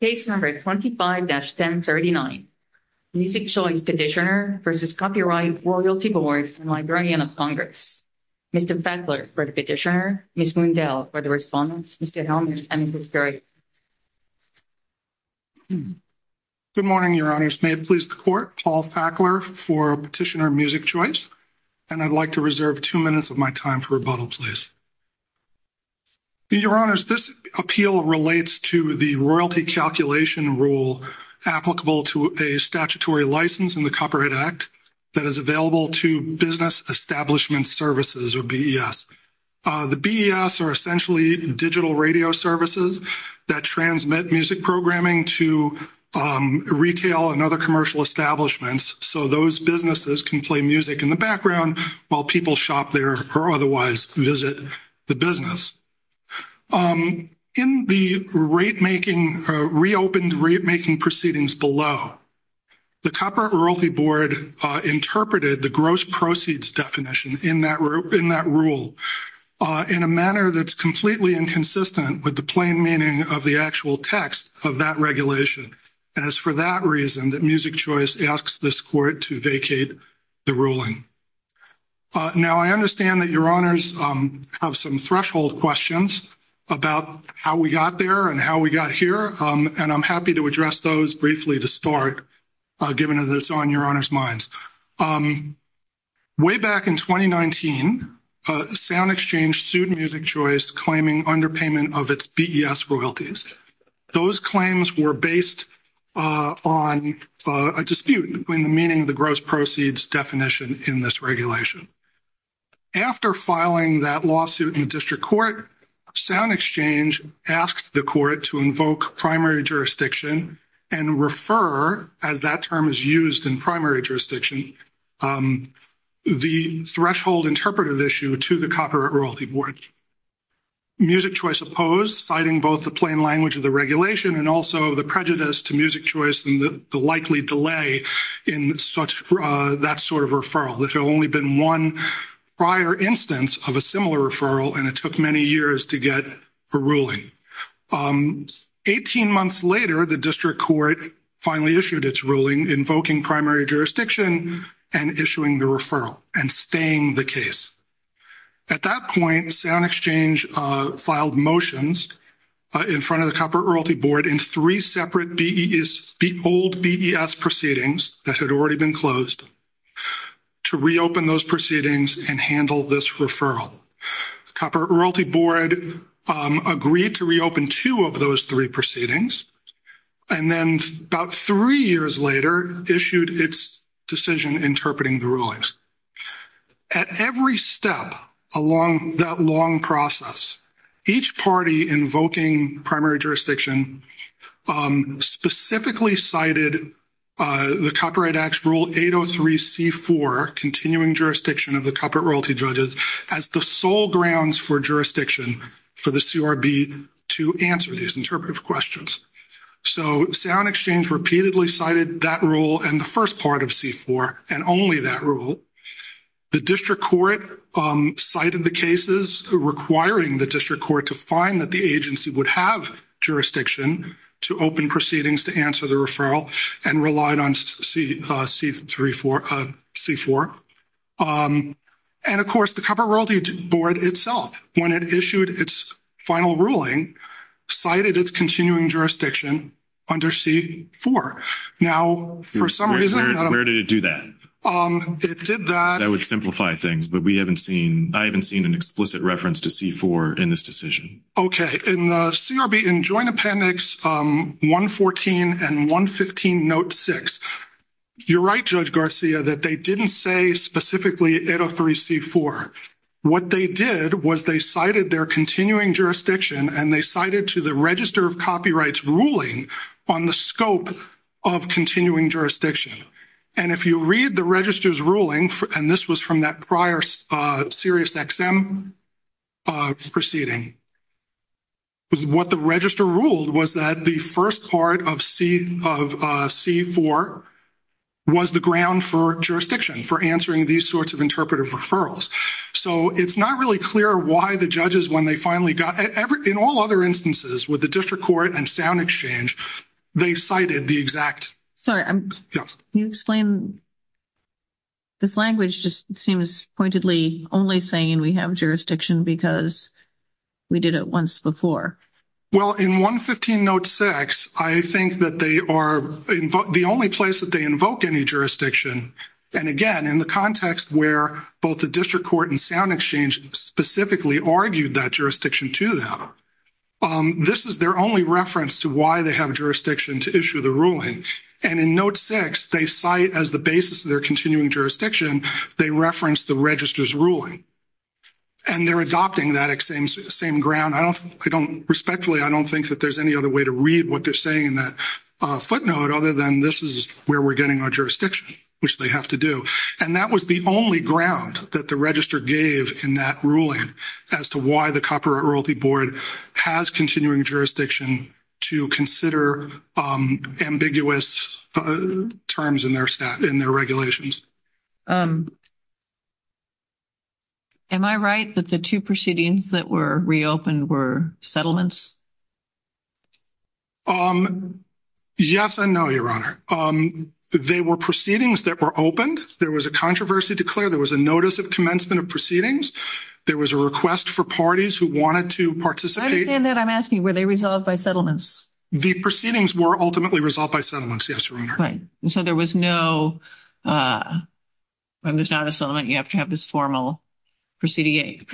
Case No. 25-1039, Music Choice Petitioner v. Copyrighted Royalty Boards and Librarian of Congress. Mr. Fackler for the petitioner, Ms. Mundell for the respondents, Mr. Helmuth and Ms. Berry. Good morning, Your Honors. May it please the Court, Paul Fackler for Petitioner of Music Choice, and I'd like to reserve two minutes of my time for rebuttal, please. Your Honors, this appeal relates to the royalty calculation rule applicable to a statutory license in the Copyright Act that is available to Business Establishment Services, or BES. The BES are essentially digital radio services that transmit music programming to retail and other commercial establishments, so those businesses can play music in the background while people shop there or otherwise visit the business. In the rate-making, reopened rate-making proceedings below, the Copyright Royalty Board interpreted the gross proceeds definition in that rule in a manner that's completely inconsistent with the plain meaning of the actual text of that regulation, and it's for that reason that Music Choice asks this Court to vacate the ruling. Now, I understand that Your Honors have some threshold questions about how we got there and how we got here, and I'm happy to address those briefly to start, given that it's on Your Honors' minds. Way back in 2019, Sound Exchange sued Music Choice, claiming underpayment of its BES royalties. Those claims were based on a dispute between meaning the gross proceeds definition in this regulation. After filing that lawsuit in the District Court, Sound Exchange asked the Court to invoke primary jurisdiction and refer, as that term is used in primary jurisdiction, the threshold interpretive issue to the Copyright Royalty Board. Music Choice opposed, citing both the plain language of the regulation and also the prejudice to Music Choice and the likely delay in that sort of referral. There had only been one prior instance of a similar referral, and it took many years to get a ruling. 18 months later, the District Court finally issued its ruling, invoking primary jurisdiction and issuing the referral and staying the case. At that point, Sound Exchange filed motions in front of the Copyright Royalty Board in three separate old BES proceedings that had already been closed to reopen those proceedings and handle this referral. Copyright Royalty Board agreed to reopen two of those three proceedings, and then about three years later issued its decision interpreting the rulings. At every step along that long process, each party invoking primary jurisdiction specifically cited the Copyright Act Rule 803c4, Continuing Jurisdiction of the Copyright Royalty Judges, as the sole grounds for jurisdiction for the CRB to answer these interpretive questions. So Sound Exchange repeatedly cited that rule in the first part of C4 and only that rule. The District Court cited the cases requiring the District Court to find that the agency would have jurisdiction to open proceedings to answer the referral and relied on C4. And, of course, the Copyright Royalty Board itself, when it issued its final ruling, cited its continuing jurisdiction under C4. Now, for some reason... Where did it do that? It did that... That would simplify things, but I haven't seen an explicit reference to C4 in this decision. Okay. In the CRB, in Joint Appendix 114 and 115, Note 6, you're right, Judge Garcia, that they didn't say specifically 803c4. What they did was they cited their continuing jurisdiction and they cited to the Register of Copyrights ruling on the scope of continuing jurisdiction. And if you read the Register's ruling, and this was from that prior SiriusXM proceeding, what the Register ruled was that the first part of C4 was the ground for jurisdiction, for answering these sorts of interpretive referrals. So it's not really clear why the judges, when they finally got... In all other instances with the District Court and Sound Exchange, they cited the exact... Sorry, can you explain... This language just seems pointedly only saying we have jurisdiction because we did it once before. Well, in 115, Note 6, I think that they are the only place that they invoke any jurisdiction. And again, in the context where both the District Court and Sound Exchange specifically argued that jurisdiction to them, this is their only reference to why they have jurisdiction to issue the ruling. And in Note 6, they cite as the basis of their continuing jurisdiction, they reference the Register's ruling. And they're adopting that same ground. I don't... Respectfully, I don't think that there's any other way to read what they're saying in that footnote other than this is where we're getting our jurisdiction, which they have to do. And that was the only ground that the Register gave in that ruling as to why the Copyright Royalty Board has continuing jurisdiction to consider ambiguous terms in their regulations. Am I right that the two proceedings that were reopened were settlements? Yes and no, Your Honor. They were proceedings that were opened. There was a controversy declared. There was a notice of commencement of proceedings. There was a request for parties who wanted to participate. I understand that I'm asking, were they resolved by settlements? The proceedings were ultimately resolved by settlements. Yes, Your Honor. Right. So there was no... When there's not a settlement, you have to have this formal proceedings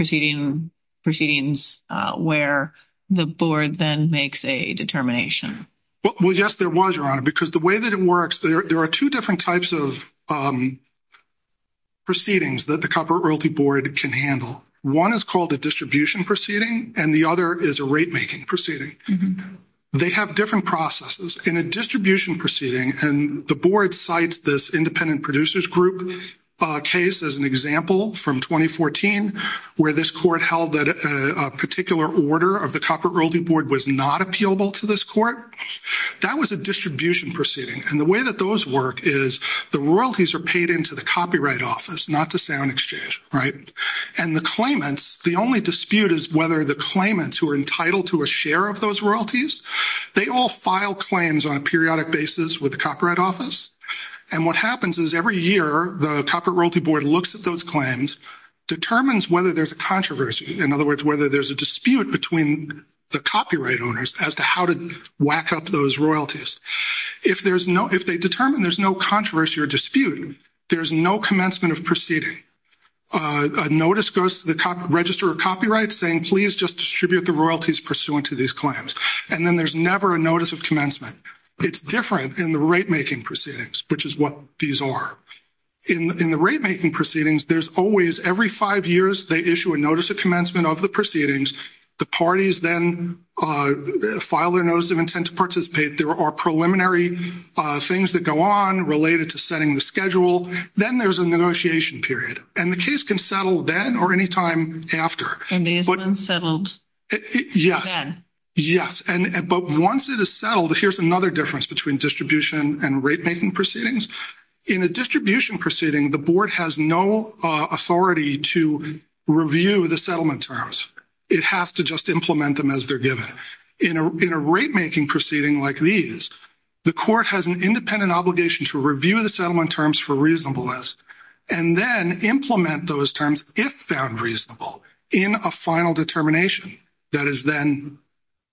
where the Board then makes a determination. Well, yes, there was, Your Honor, because the way that it works, there are two different types of proceedings that the Copyright Royalty Board can handle. One is called a distribution proceeding, and the other is a rate-making proceeding. They have different processes. In a distribution proceeding, and the Board cites this independent producers group case as an example from 2014, where this court held that a particular order of the Copyright Royalty Board was not appealable to this court. That was a distribution proceeding. And the way that those work is the royalties are paid into the Copyright Office, not to sound exchange, right? And the claimants, the only dispute is whether the claimants who are entitled to a share of those royalties, they all file claims on a periodic basis with the Copyright Office. And what happens is every year the Copyright Royalty Board looks at those claims, determines whether there's a controversy. In other words, whether there's a dispute between the copyright owners as to how to whack up those royalties. If there's no, if they determine there's no controversy or dispute, there's no commencement of proceeding. A notice goes to the register of copyrights saying, please just distribute the royalties pursuant to these claims. And then there's never a notice of commencement. It's different in the rate-making proceedings, which is what these are. In the rate-making proceedings, there's always, every five years, they issue a notice of commencement of the proceedings. The parties then file their notice of intent to participate. There are preliminary things that go on related to setting the schedule. Then there's a negotiation period, and the case can settle then or any time after. And then it's unsettled. Yes. Then. Yes. But once it is settled, here's another difference between distribution and rate-making proceedings. In a distribution proceeding, the board has no authority to review the settlement terms. It has to just implement them as they're given. In a rate-making proceeding like these, the court has an independent obligation to review the settlement terms for reasonableness, and then implement those terms if found reasonable in a final determination that is then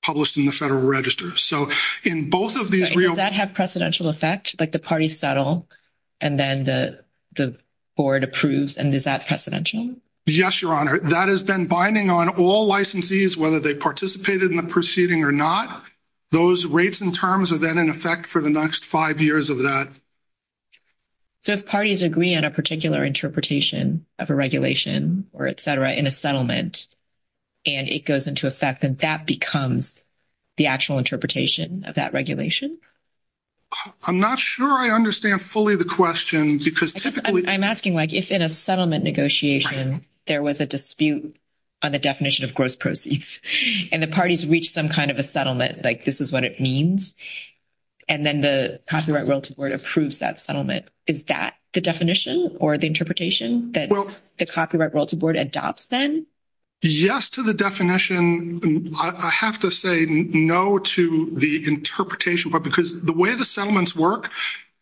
published in the federal register. So in both of these real- Does that have precedential effect, like the parties settle, and then the board approves, and is that precedential? Yes, Your Honor. That has been binding on all licensees, whether they participated in the proceeding or not. Those rates and terms are then in effect for the next five years of that. So if parties agree on a particular interpretation of a regulation, or et cetera, in a settlement, and it goes into effect, then that becomes the actual interpretation of that regulation? I'm not sure I understand fully the question, because typically- I'm asking, like, if in a settlement negotiation, there was a dispute on the definition of gross proceeds, and the parties reached some kind of a settlement, like this is what it means, and then the Copyright Realtor Board approves that settlement, is that the definition or the interpretation that the Copyright Realtor Board adopts then? Yes to the definition. I have to say no to the interpretation, because the way the settlements work,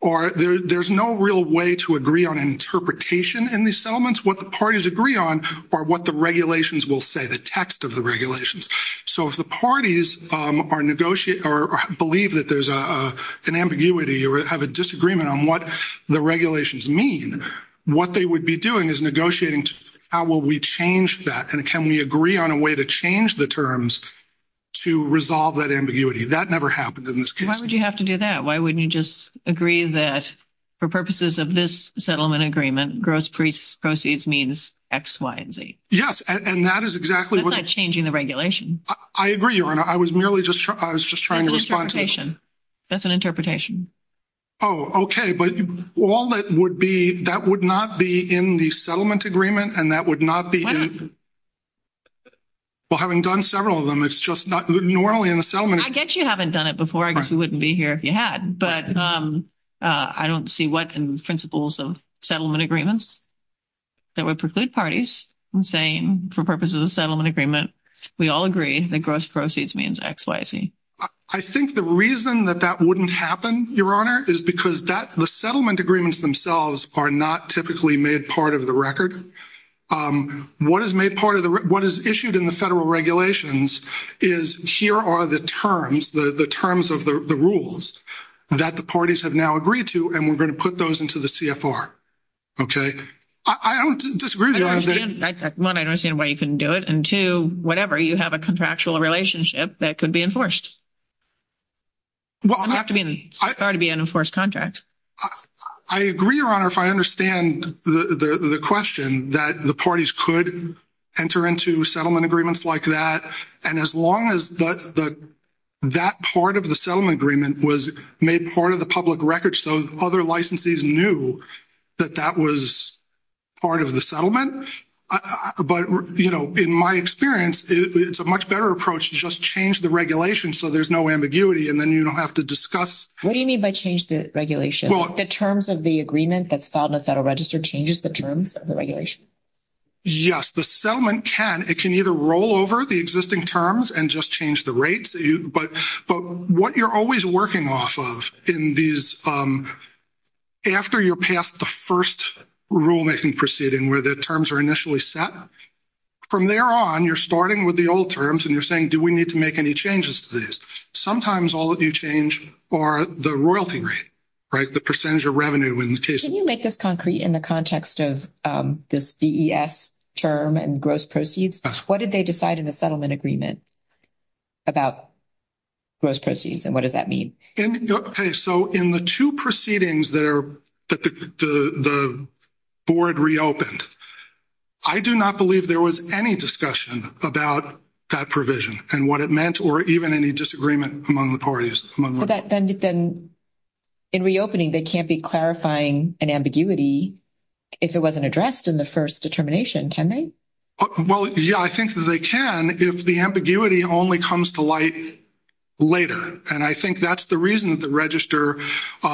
there's no real way to agree on interpretation in these settlements. What the parties agree on are what the regulations will say, the text of the regulations. So if the parties believe that there's an ambiguity or have a disagreement on what the regulations mean, what they would be doing is negotiating, how will we change that, and can we agree on a way to change the terms to resolve that ambiguity? That never happens in this case. Why would you have to do that? Why wouldn't you just agree that, for purposes of this settlement agreement, gross proceeds means X, Y, and Z? Yes, and that is exactly what- That's not changing the regulation. I agree, Ronna. I was merely just trying to respond- That's an interpretation. That's an interpretation. Oh, okay, but all that would be, that would not be in the settlement agreement, and that would not be in- Well, having done several of them, it's just not normally in the settlement- I guess you haven't done it before. I guess you wouldn't be here if you had, but I don't see what principles of settlement agreements that would preclude parties from saying, for purposes of the settlement agreement, we all agree that gross proceeds means X, Y, Z. I think the reason that that wouldn't happen, Your Honor, is because the settlement agreements themselves are not typically made part of the record. What is issued in the federal regulations is, here are the terms, the terms of the rules that the parties have now agreed to, and we're going to put those into the CFR, okay? I don't disagree with you on that. One, I understand why you couldn't do it, and two, whatever, you have a contractual relationship that could be enforced. It would have to be an enforced contract. I agree, Your Honor, if I understand the question that the parties could enter into settlement agreements like that, and as long as that part of the settlement agreement was made part of the public record so other licensees knew that that was part of the settlement, but in my experience, it's a much better approach to just change the regulation so there's no ambiguity, and then you don't have to discuss. What do you mean by change the regulation? The terms of the agreement that's filed in the Federal Register changes the terms of the regulation? Yes, the settlement can. It can either roll over the existing terms and just change the rates, but what you're always working off of in these, after you're past the first rulemaking proceeding where the terms are initially set, from there on, you're starting with the old terms, and you're saying, do we need to make any changes to these? Sometimes, all of you change for the royalty rate, right, the percentage of revenue in the case. Can you make this concrete in the context of this DES term and gross proceeds? What did they decide in the settlement agreement about gross proceeds, and what does that mean? Okay, so in the two proceedings there that the board reopened, I do not believe there was any discussion about that provision and what it meant, or even any disagreement among the parties. Then in reopening, they can't be clarifying an ambiguity if it wasn't addressed in the first determination, can they? Well, yeah, I think that they can if the ambiguity only comes to light later, and I think that's the reason the register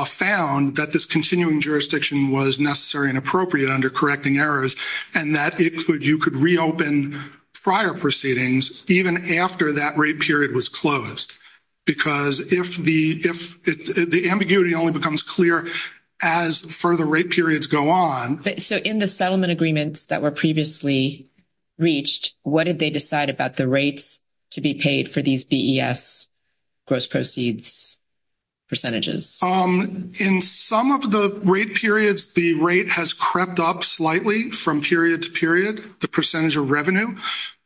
found that this continuing jurisdiction was necessary and appropriate under correcting errors, and that you could reopen prior proceedings even after that rate period was closed, because if the ambiguity only becomes clear as further rate periods go on. So in the settlement agreements that were previously reached, what did they decide about the rates to be paid for these DES gross proceeds percentages? In some of the rate periods, the rate has crept up slightly from period to period, the percentage of revenue,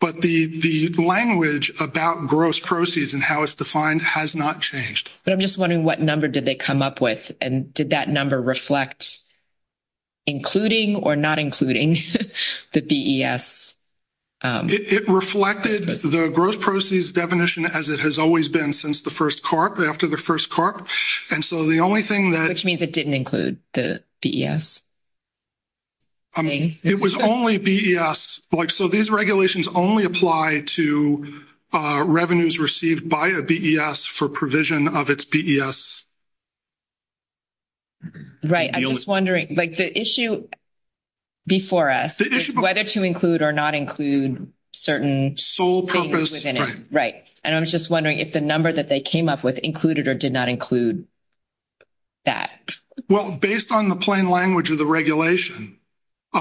but the language about gross proceeds and how it's defined has not changed. But I'm just wondering what number did they come up with, and did that number reflect including or not including the DES? It reflected the gross proceeds definition as it has always been since the first Corp, after the first Corp, and so the only thing that- Which means it didn't include the DES? It was only DES. So these regulations only apply to revenues received by a DES for provision of its ES. Right. I'm just wondering, like the issue before us is whether to include or not include certain- Sole purpose. Right. And I'm just wondering if the number that they came up with included or did not include that. Well, based on the plain language of the regulation,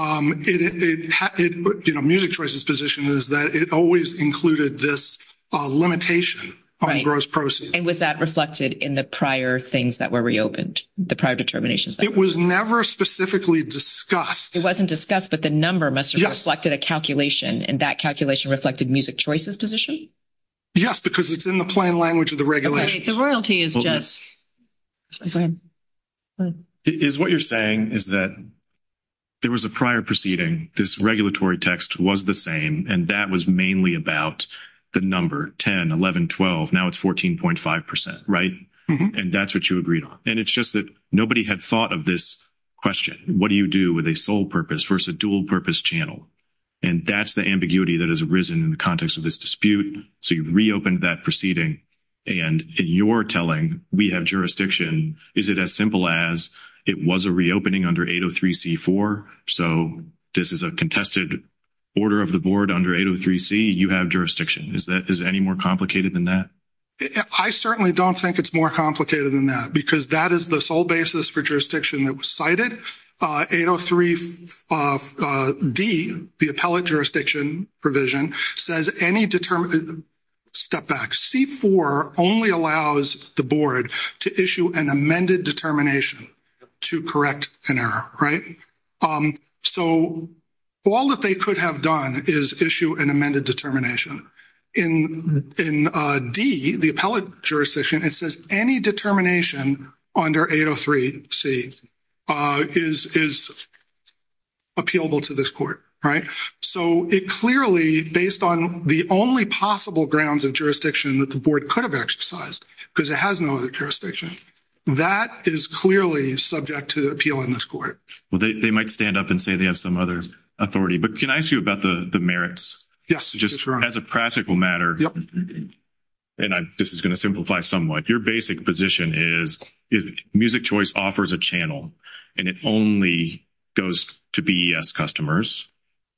Munich's position is that it always included this limitation on gross proceeds. And was that reflected in the prior things that were reopened, the prior determinations? It was never specifically discussed. It wasn't discussed, but the number must have reflected a calculation, and that calculation reflected Music Choice's position? Yes, because it's in the plain language of the regulation. The royalty is just- Is what you're saying is that there was a prior proceeding, this regulatory text was the same, and that was mainly about the number 10, 11, 12. Now it's 14.5%, right? And that's what you agreed on. And it's just that nobody had thought of this question. What do you do with a sole purpose versus a dual purpose channel? And that's the ambiguity that has arisen in the context of this dispute. So you've reopened that proceeding, and in your telling, we have jurisdiction. Is it as simple as it was a reopening under 803c4? So this is a contested order of the board under 803c, you have jurisdiction. Is that- is it any more complicated than that? I certainly don't think it's more complicated than that, because that is the sole basis for jurisdiction that was cited. 803d, the appellate jurisdiction provision, says any- Step back. C4 only allows the board to issue an amended determination to correct an error, right? So all that they could have done is issue an amended determination. In d, the appellate jurisdiction, it says any determination under 803c is appealable to this court, right? So it clearly, based on the only possible grounds of jurisdiction that the board could have exercised, because it has no other jurisdiction, that is clearly subject to appeal in this court. Well, they might stand up and say they have some other authority, but can I ask you about the merits? Just as a practical matter, and this is going to simplify somewhat, your basic position is Music Choice offers a channel, and it only goes to BES customers.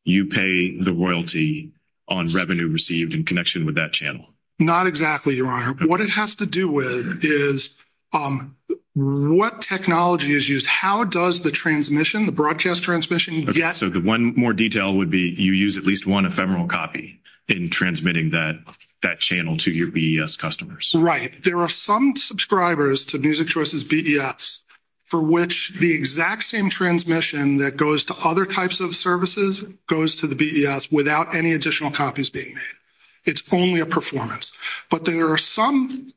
You pay the royalty on revenue received in connection with that channel. Not exactly, Your Honor. What it has to do with is what technology is used. How does the transmission, the broadcast transmission get- So one more detail would be you use at least one ephemeral copy in transmitting that channel to your BES customers. Right. There are some subscribers to Music Choice's BES for which the exact same transmission that goes to other types of services goes to the BES without any additional copies being made. It's only a performance. But there are some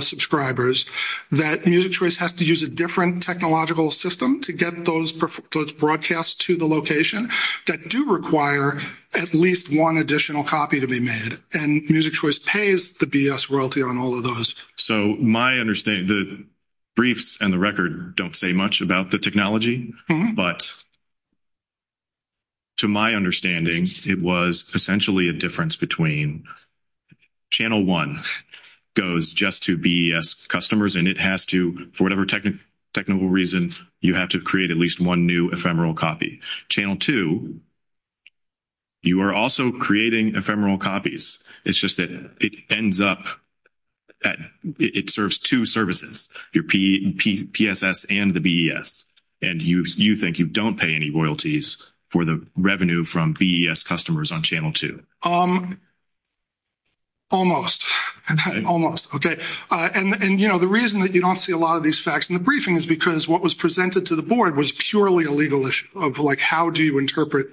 subscribers that Music Choice has to use a different technological system to get those broadcasts to the location that do require at least one additional copy to be made, and Music Choice pays the BES royalty on all of those. So my understanding, the briefs and the record don't say much about the technology, but to my understanding, it was essentially a difference between channel one goes just to BES customers, and it has to, for whatever technical reason, you have to create at least one new ephemeral copy. Channel two, you are also creating ephemeral copies. It's just that it ends up at- it serves two services, your PSS and the BES, and you think you don't pay any royalties for the revenue from BES customers on channel two. Almost. And, you know, the reason that you don't see a lot of these facts in the briefing is because what was presented to the board was purely a legal issue of, like, how do you interpret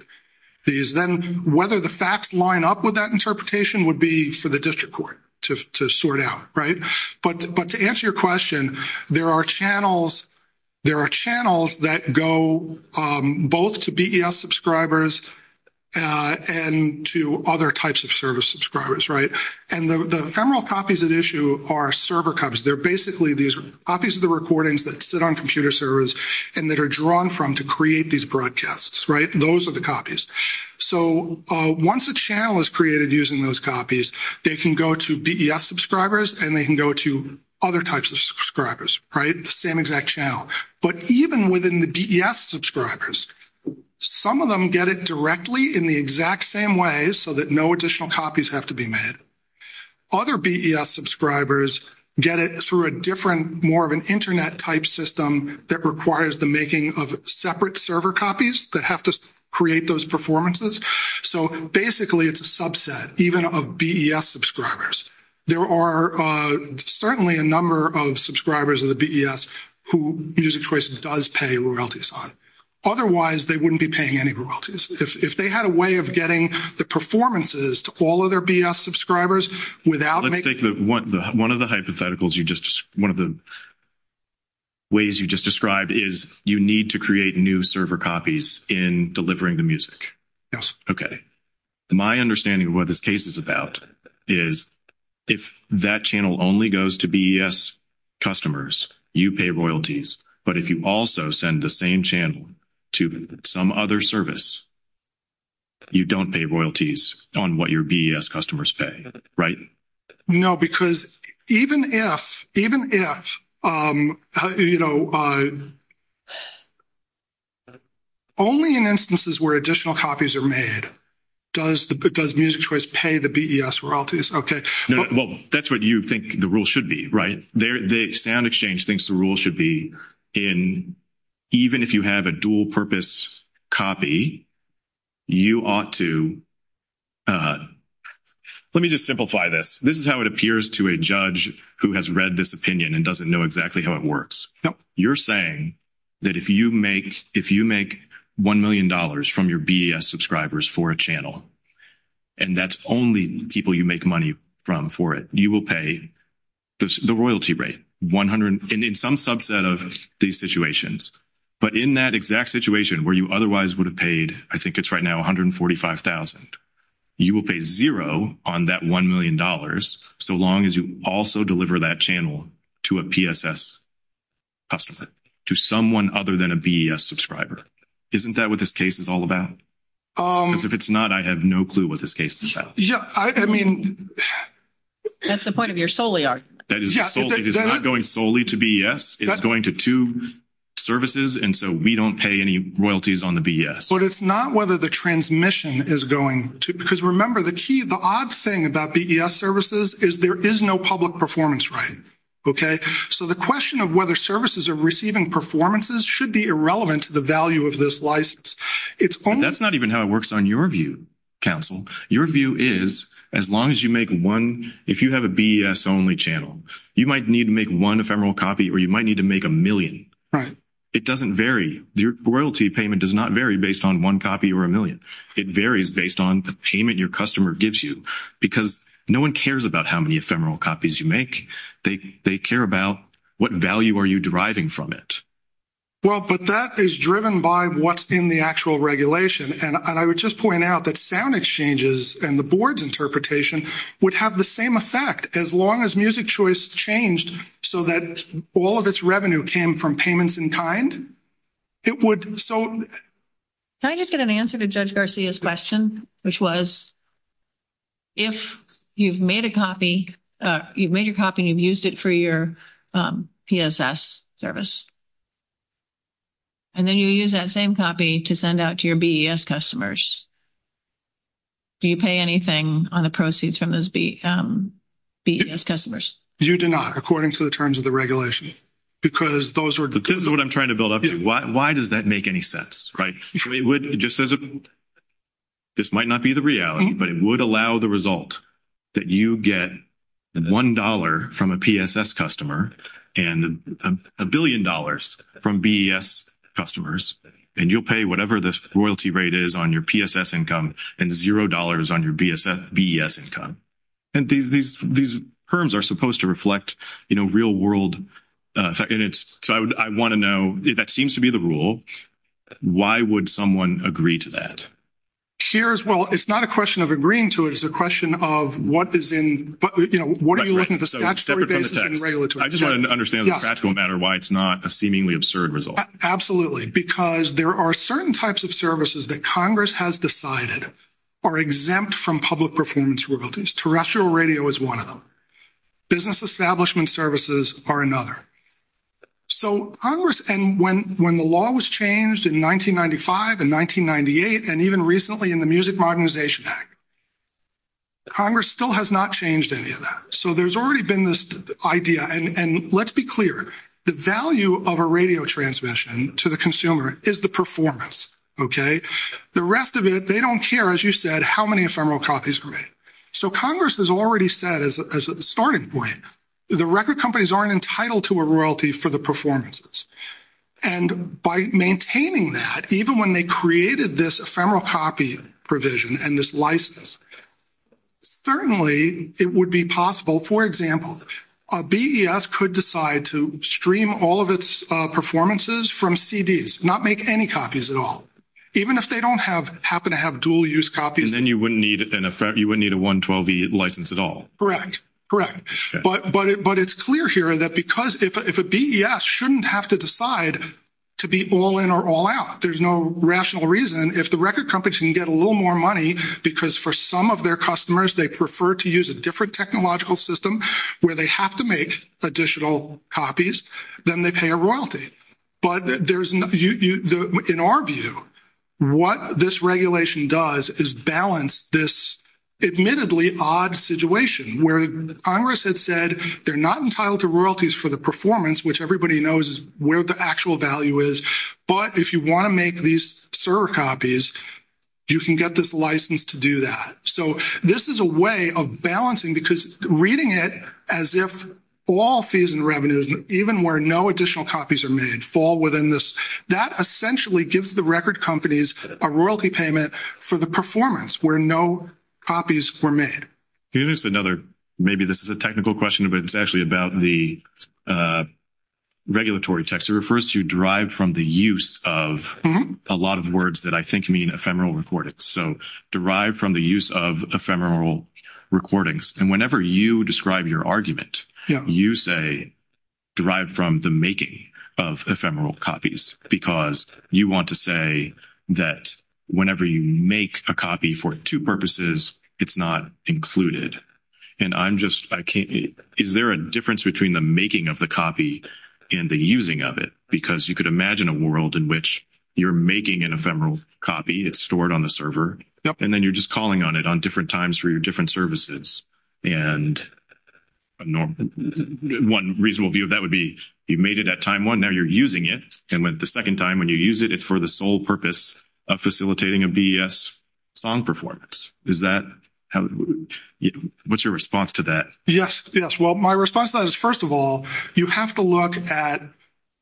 these? Then whether the facts line up with that interpretation would be for the district court to sort out, right? But to answer your question, there are channels that go both to BES subscribers and to other types of service subscribers, right? And the ephemeral copies at issue are server copies. They're basically these copies of the recordings that sit on computer servers and that are drawn from to create these broadcasts, right? Those are the copies. So once a channel is created using those copies, they can go to BES subscribers, and they can go to other types of subscribers, right? Same exact channel. But even within the BES subscribers, some of them get it directly in the exact same way so that no additional copies have to be made. Other BES subscribers get it through a different, more of an internet-type system that requires the making of separate server copies that have to create those performances. So basically, it's a subset, even of BES subscribers. There are certainly a number of subscribers of the BES who Music Choices does pay royalties on. Otherwise, they wouldn't be paying any royalties. If they had a way of getting the performances to all of their BES subscribers without making Let's take one of the hypotheticals you just, one of the ways you just described is you need to create new server copies in delivering the music. Yes. Okay. My understanding of what this case is about is if that channel only goes to BES customers, you pay royalties. But if you also send the same channel to some other service, you don't pay royalties on what your BES customers pay, right? No, because even if, you know, only in instances where additional copies are made, does Music Choice pay the BES royalties? Okay. Well, that's what you think the rule should be, right? The sound exchange thinks the rule should be in even if you have a dual-purpose copy, you ought to, let me just simplify this. This is how it appears to a judge who has read this opinion and doesn't know exactly how it works. Yep. You're saying that if you make $1 million from your BES subscribers for a channel, and that's only people you make money from for it, you will pay the royalty rate, 100, in some subset of these situations. But in that exact situation where you otherwise would have paid, I think it's right now $145,000, you will pay zero on that $1 million so long as you also deliver that channel to a PSS customer, to someone other than a BES subscriber. Isn't that what this case is all about? If it's not, I have no clue what this case is about. Yeah, I mean... That's the point of your solely argument. That is solely. It is not going solely to BES. It's going to two services, and so we don't pay any royalties on the BES. But it's not whether the transmission is going to, because remember the key, the odd thing about BES services is there is no public performance rate, okay? So the question of whether services are receiving performances should be irrelevant to the value of this license. It's only... That's not even how it works on your view, counsel. Your view is, as long as you make one, if you have a BES-only channel, you might need to make one ephemeral copy, or you might need to make a million. Right. It doesn't vary. Your royalty payment does not vary based on one copy or a million. It varies based on the payment your customer gives you, because no one cares about how many ephemeral copies you make. They care about what value are you deriving from it. Well, but that is driven by what's in the actual regulation, and I would just point out that sound exchanges and the board's interpretation would have the same effect as long as music choice changed so that all of its revenue came from payments in kind. It would, so... Can I just get an answer to Judge Garcia's question, which was, if you've made a copy, you've made your copy, you've used it for your PSS service, and then you use that same copy to send out to your BES customers, do you pay anything on the proceeds from those BES customers? You do not, according to the terms of the regulation, because those are... This is what I'm trying to build up here. Why does that make any sense, right? I mean, it just says, this might not be the reality, but it would allow the result that you get $1 from a PSS customer and a billion dollars from BES customers, and you'll pay whatever this royalty rate is on your PSS income and $0 on your BES income. And these terms are supposed to reflect, you know, real-world... So I want to know, if that seems to be the rule, why would someone agree to that? Here as well, it's not a question of agreeing to it, it's a question of what is in, you know, what are you looking at the statutory basis and regulatory? I just want to understand the practical matter why it's not a seemingly absurd result. Absolutely, because there are certain types of services that Congress has decided are exempt from public performance royalties. Terrestrial radio is one of them. Business establishment services are another. So Congress... And when the law was changed in 1995 and 1998, and even recently in the Music Modernization Act, Congress still has not changed any of that. So there's already been this idea, and let's be clear, the value of a radio transmission to the consumer is the performance, okay? The rest of it, they don't care, as you said, how many ephemeral copies are made. So Congress has already said, as a starting point, the record companies aren't entitled to a royalty for the performances. And by maintaining that, even when they created this ephemeral copy provision and this license, certainly it would be possible, for example, a BES could decide to stream all of its performances from CDs, not make any copies at all, even if they don't happen to have dual-use copies. And then you wouldn't need a 112e license at all. Correct, correct. But it's clear here that if a BES shouldn't have to decide to be all-in or all-out, there's no rational reason. If the record companies can get a little more money, because for some of their customers, they prefer to use a different technological system where they have to make additional copies, then they pay a royalty. But in our view, what this regulation does is balance this admittedly odd situation, where Congress had said, they're not entitled to royalties for the performance, which everybody knows is where the actual value is. But if you want to make these server copies, you can get this license to do that. So this is a way of balancing, because reading it as if all fees and revenues, even where no additional copies are made, fall within this. That essentially gives the record companies a royalty payment for the performance where no copies were made. Here's another, maybe this is a technical question, but it's actually about the regulatory text. It refers to derive from the use of a lot of words that I think mean ephemeral recordings. So derive from the use of ephemeral recordings. Whenever you describe your argument, you say derive from the making of ephemeral copies, because you want to say that whenever you make a copy for two purposes, it's not included. Is there a difference between the making of the copy and the using of it? Because you could imagine a world in which you're making an ephemeral copy, it's stored on the server, and then you're just calling on it on different times for your different services. And one reasonable view of that would be, you made it at time one, now you're using it. And the second time when you use it, it's for the sole purpose of facilitating a BES song performance. What's your response to that? Yes. Yes. Well, my response to that is, first of all, you have to look at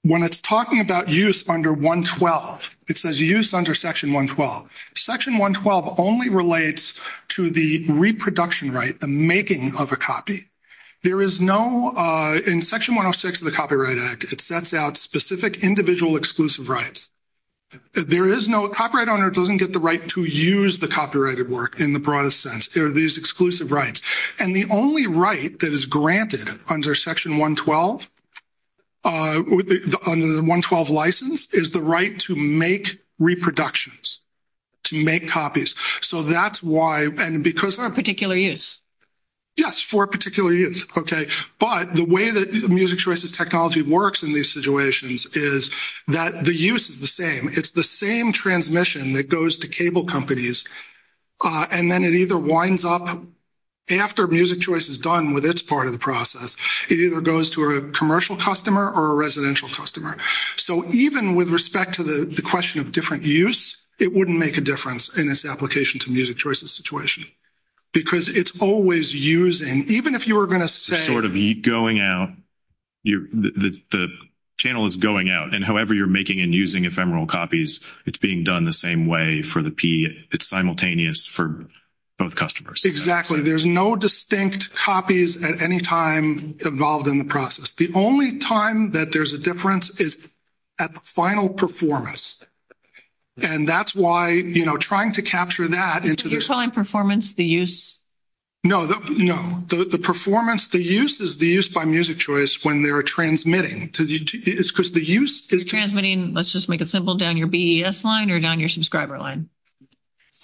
when it's talking about use under 112, it says use under Section 112. Section 112 only relates to the reproduction right, the making of a copy. There is no, in Section 106 of the Copyright Act, it sets out specific individual exclusive rights. There is no copyright owner doesn't get the right to use the copyrighted work in the broadest sense. There are these exclusive rights. And the only right that is granted under Section 112, under the 112 license, is the right to make reproductions. To make copies. So that's why, and because... For a particular use. Yes, for a particular use. Okay. But the way that MusicChoice's technology works in these situations is that the use is the same. It's the same transmission that goes to cable companies. And then it either winds up, after MusicChoice is done with its part of the process, it either goes to a commercial customer or a residential customer. So even with respect to the question of different use, it wouldn't make a difference in its application to MusicChoice's situation. Because it's always using... Even if you were going to say... It's sort of going out. The channel is going out. And however you're making and using ephemeral copies, it's being done the same way for the P. It's simultaneous for both customers. Exactly. There's no distinct copies at any time involved in the process. The only time that there's a difference is at the final performance. And that's why, you know, trying to capture that into the... You're calling performance the use? No, no. The performance, the use is the use by MusicChoice when they're transmitting. It's because the use is... Transmitting, let's just make it simple, down your BES line or down your subscriber line?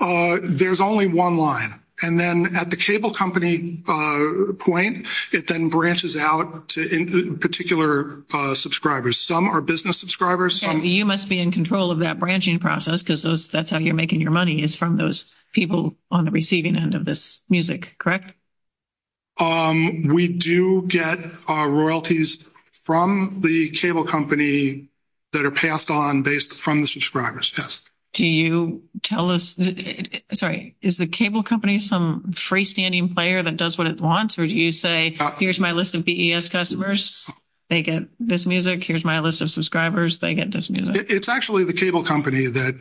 There's only one line. And then at the cable company point, it then branches out to particular subscribers. Some are business subscribers. You must be in control of that branching process, because that's how you're making your money, is from those people on the receiving end of this music, correct? We do get our royalties from the cable company that are passed on based from the subscribers, yes. Do you tell us... Sorry, is the cable company some freestanding player that does what it wants? Or do you say, here's my list of BES customers, they get this music. Here's my list of subscribers. It's actually the cable company that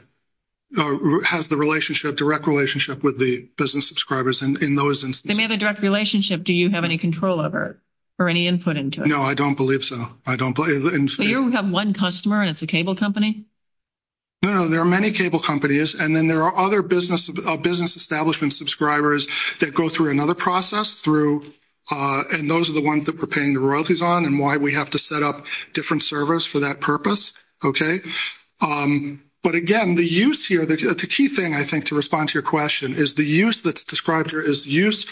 has the relationship, direct relationship with the business subscribers in those instances. They may have a direct relationship. Do you have any control over it or any input into it? No, I don't believe so. I don't believe... You don't have one customer at the cable company? No, there are many cable companies. And then there are other business establishment subscribers that go through another process through... And those are the ones that we're paying the royalties on and why we have to set up different servers for that purpose. Okay. But again, the use here, the key thing, I think, to respond to your question is the use that's described here is use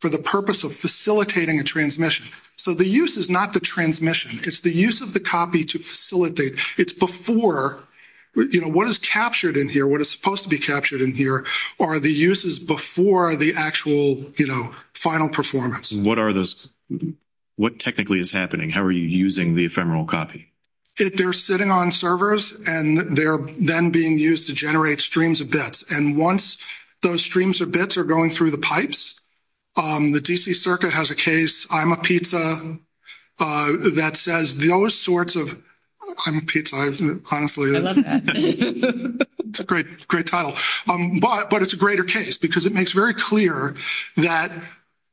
for the purpose of facilitating a transmission. So the use is not the transmission. It's the use of the copy to facilitate. It's before, you know, what is captured in here, what is supposed to be captured in here, are the uses before the actual, you know, final performance. What are those? What technically is happening? How are you using the ephemeral copy? They're sitting on servers, and they're then being used to generate streams of bits. And once those streams of bits are going through the pipes, the DC circuit has a case, I'm a pizza, that says those sorts of... I'm a pizza, isn't it? I love that. It's a great title. But it's a greater case because it makes very clear that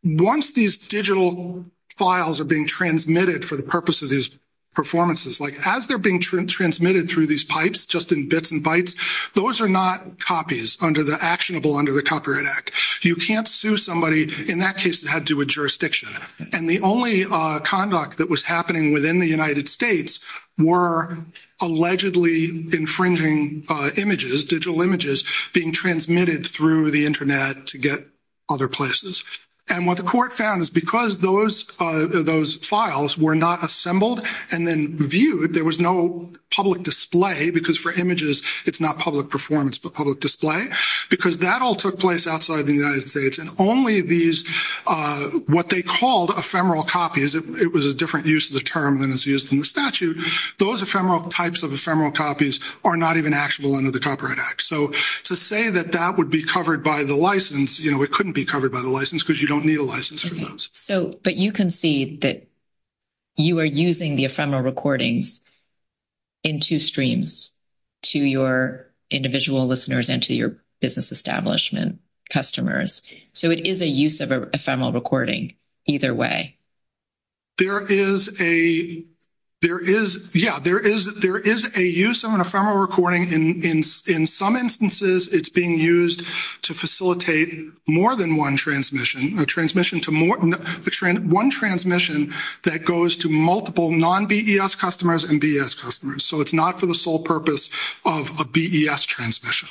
once these digital files are being transmitted for the purpose of these performances, like as they're being transmitted through these pipes, just in bits and bytes, those are not copies under the actionable, under the Copyright Act. You can't sue somebody, in that case, that had to do with jurisdiction. And the only conduct that was happening within the United States were allegedly infringing images, digital images, being transmitted through the internet to get other places. And what the court found is because those files were not assembled and then viewed, there was no public display, because for images, it's not public performance, but public display, because that all took place outside the United States. And only these, what they called ephemeral copies, it was a different use of the term than it's used in the statute, those ephemeral types of ephemeral copies are not even actionable under the Copyright Act. So to say that that would be covered by the license, it couldn't be covered by the license, because you don't need a license for those. So, but you can see that you are using the ephemeral recordings in two streams, to your individual listeners and to your business establishment customers. So it is a use of ephemeral recording, either way. There is a, there is, yeah, there is a use of an ephemeral recording. In some instances, it's being used to facilitate more than one transmission, a transmission to more than one transmission that goes to multiple non-BES customers and BES customers. So it's not for the sole purpose of a BES transmission.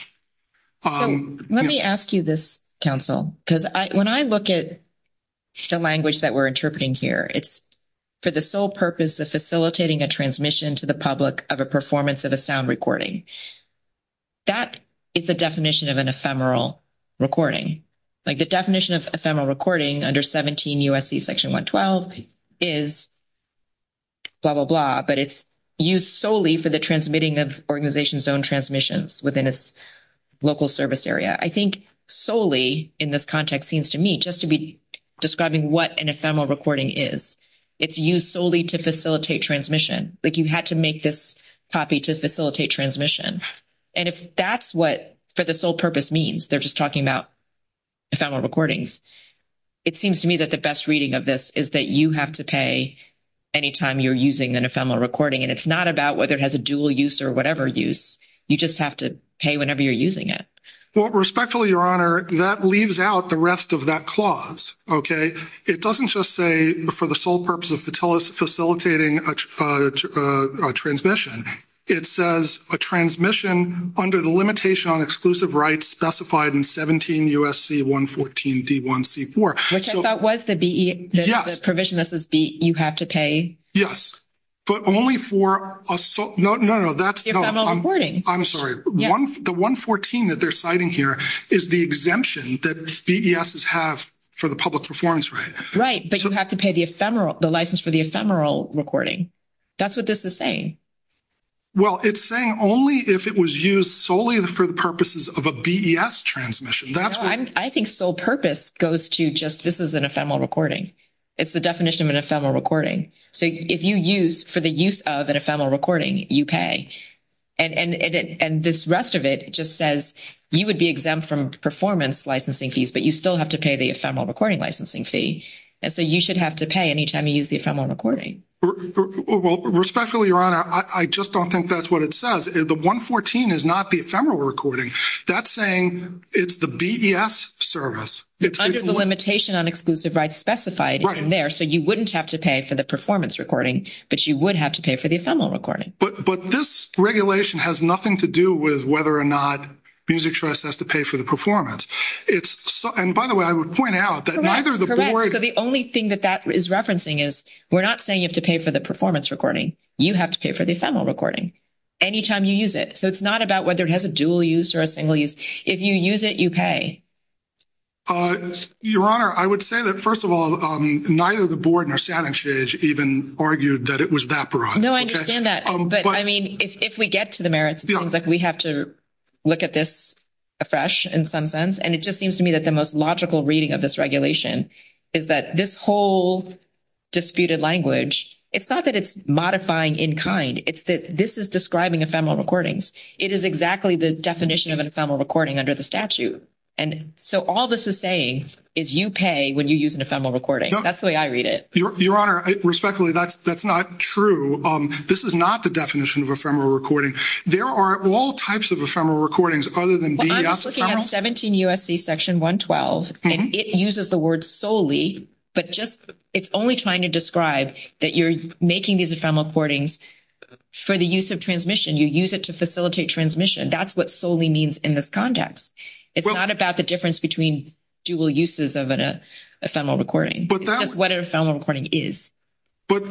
Oh, let me ask you this, counsel, because when I look at the language that we're interpreting here, it's for the sole purpose of facilitating a transmission to the public of a performance of a sound recording. That is the definition of an ephemeral recording. Like the definition of ephemeral recording under 17 U.S.C. section 112 is blah, blah, blah. But it's used solely for the transmitting of organizations' own transmissions within a local service area. I think solely in this context seems to me just to be describing what an ephemeral recording is. It's used solely to facilitate transmission. Like you had to make this copy to facilitate transmission. And if that's what for the sole purpose means, they're just talking about ephemeral recordings, it seems to me that the best reading of this is that you have to pay any time you're using an ephemeral recording. And it's not about whether it has a dual use or whatever use. You just have to pay whenever you're using it. Well, respectfully, Your Honor, that leaves out the rest of that clause, okay? It doesn't just say for the sole purpose of facilitating a transmission. It says a transmission under the limitation on exclusive rights specified in 17 U.S.C. 114-D1-C4. Which if that was the BES, the provision that says you have to pay. Yes. But only for a sole... No, no, that's... Ephemeral recording. I'm sorry. The 114 that they're citing here is the exemption that BESs have for the public performance right. Right. But you have to pay the license for the ephemeral recording. That's what this is saying. Well, it's saying only if it was used solely for the purposes of a BES transmission. I think sole purpose goes to just this is an ephemeral recording. It's the definition of an ephemeral recording. So if you use for the use of an ephemeral recording, you pay. And this rest of it just says you would be exempt from performance licensing fees, but you still have to pay the ephemeral recording licensing fee. And so you should have to pay any time you use the ephemeral recording. Well, respectfully, Your Honor, I just don't think that's what it says. The 114 is not the ephemeral recording. That's saying it's the BES service. It's under the limitation on exclusive rights specified in there. So you wouldn't have to pay for the performance recording, but you would have to pay for the ephemeral recording. But this regulation has nothing to do with whether or not Music Trust has to pay for the performance. It's... And by the way, I would point out that neither the board... You don't have to pay for the performance recording. You have to pay for the ephemeral recording any time you use it. So it's not about whether it has a dual use or a single use. If you use it, you pay. Your Honor, I would say that, first of all, neither the board nor Senate has even argued that it was that broad. No, I understand that. But I mean, if we get to the merits, it sounds like we have to look at this afresh in some sense. And it just seems to me that the most logical reading of this regulation is that this whole disputed language, it's not that it's modifying in kind. It's that this is describing ephemeral recordings. It is exactly the definition of an ephemeral recording under the statute. And so all this is saying is you pay when you use an ephemeral recording. That's the way I read it. Your Honor, respectfully, that's not true. This is not the definition of ephemeral recording. There are all types of ephemeral recordings other than... I'm looking at 17 U.S.C. Section 112, and it uses the word solely. But it's only trying to describe that you're making these ephemeral recordings for the use of transmission. You use it to facilitate transmission. That's what solely means in this context. It's not about the difference between dual uses of an ephemeral recording. It's just what an ephemeral recording is. But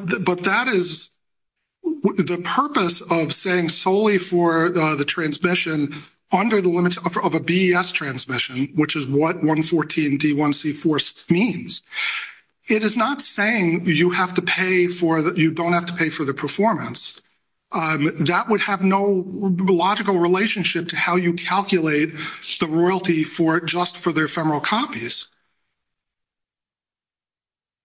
that is the purpose of saying solely for the transmission under the limits of a BES transmission, which is what 114 D1C4 means. It is not saying you have to pay for the... You don't have to pay for the performance. That would have no logical relationship to how you calculate the royalty for just for the ephemeral copies.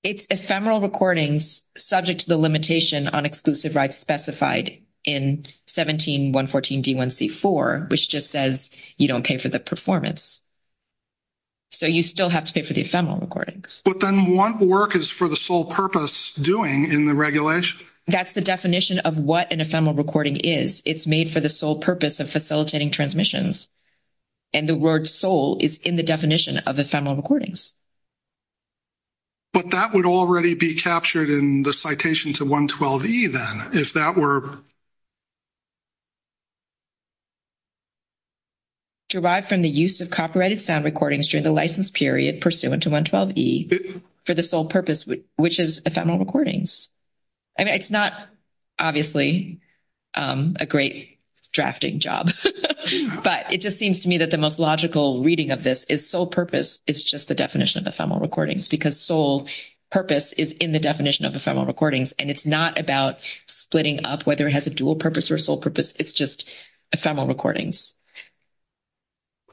It's ephemeral recordings subject to the limitation on exclusive rights specified in 17 114 D1C4, which just says you don't pay for the performance. So you still have to pay for the ephemeral recordings. But then what work is for the sole purpose doing in the regulation? That's the definition of what an ephemeral recording is. It's made for the sole purpose of facilitating transmissions. And the word sole is in the definition of ephemeral recordings. But that would already be captured in the citation to 112E then, if that were... Derived from the use of copyrighted sound recordings during the license period pursuant to 112E for the sole purpose, which is ephemeral recordings. I mean, it's not obviously a great drafting job. But it just seems to me that the most logical reading of this is sole purpose. It's just the definition of ephemeral recordings. Because sole purpose is in the definition of ephemeral recordings. And it's not about splitting up whether it has a dual purpose or sole purpose. It's just ephemeral recordings.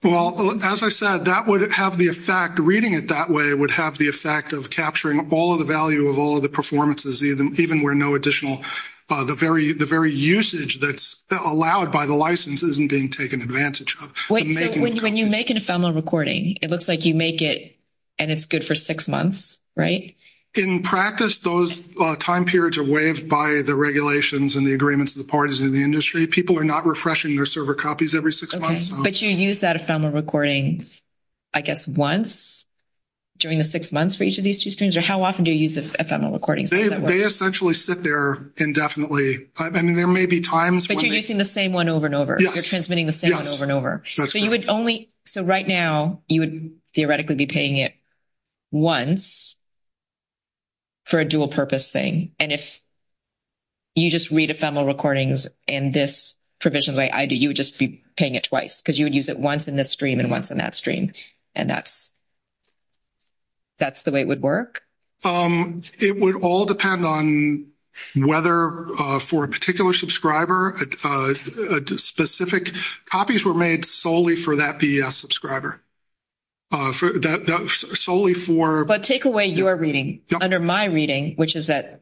Well, as I said, that would have the effect... Reading it that way would have the effect of capturing all the value of all the performances, even where no additional... The very usage that's allowed by the license isn't being taken advantage of. When you make an ephemeral recording, it looks like you make it and it's good for six months, right? In practice, those time periods are waived by the regulations and the agreements of the parties in the industry. People are not refreshing their server copies every six months. But you use that ephemeral recording, I guess, once during the six months for each of these two students? Or how often do you use this ephemeral recording? They essentially sit there indefinitely. I mean, there may be times... But you're using the same one over and over. You're transmitting the same one over and over. So you would only... So right now, you would theoretically be paying it once for a dual-purpose thing. And if you just read ephemeral recordings in this provisioned way, you would just be paying it twice because you would use it once in this stream and once in that stream. And that's the way it would work? It would all depend on whether for a particular subscriber, a specific... Copies were made solely for that BES subscriber. Solely for... But take away your reading. Under my reading, which is that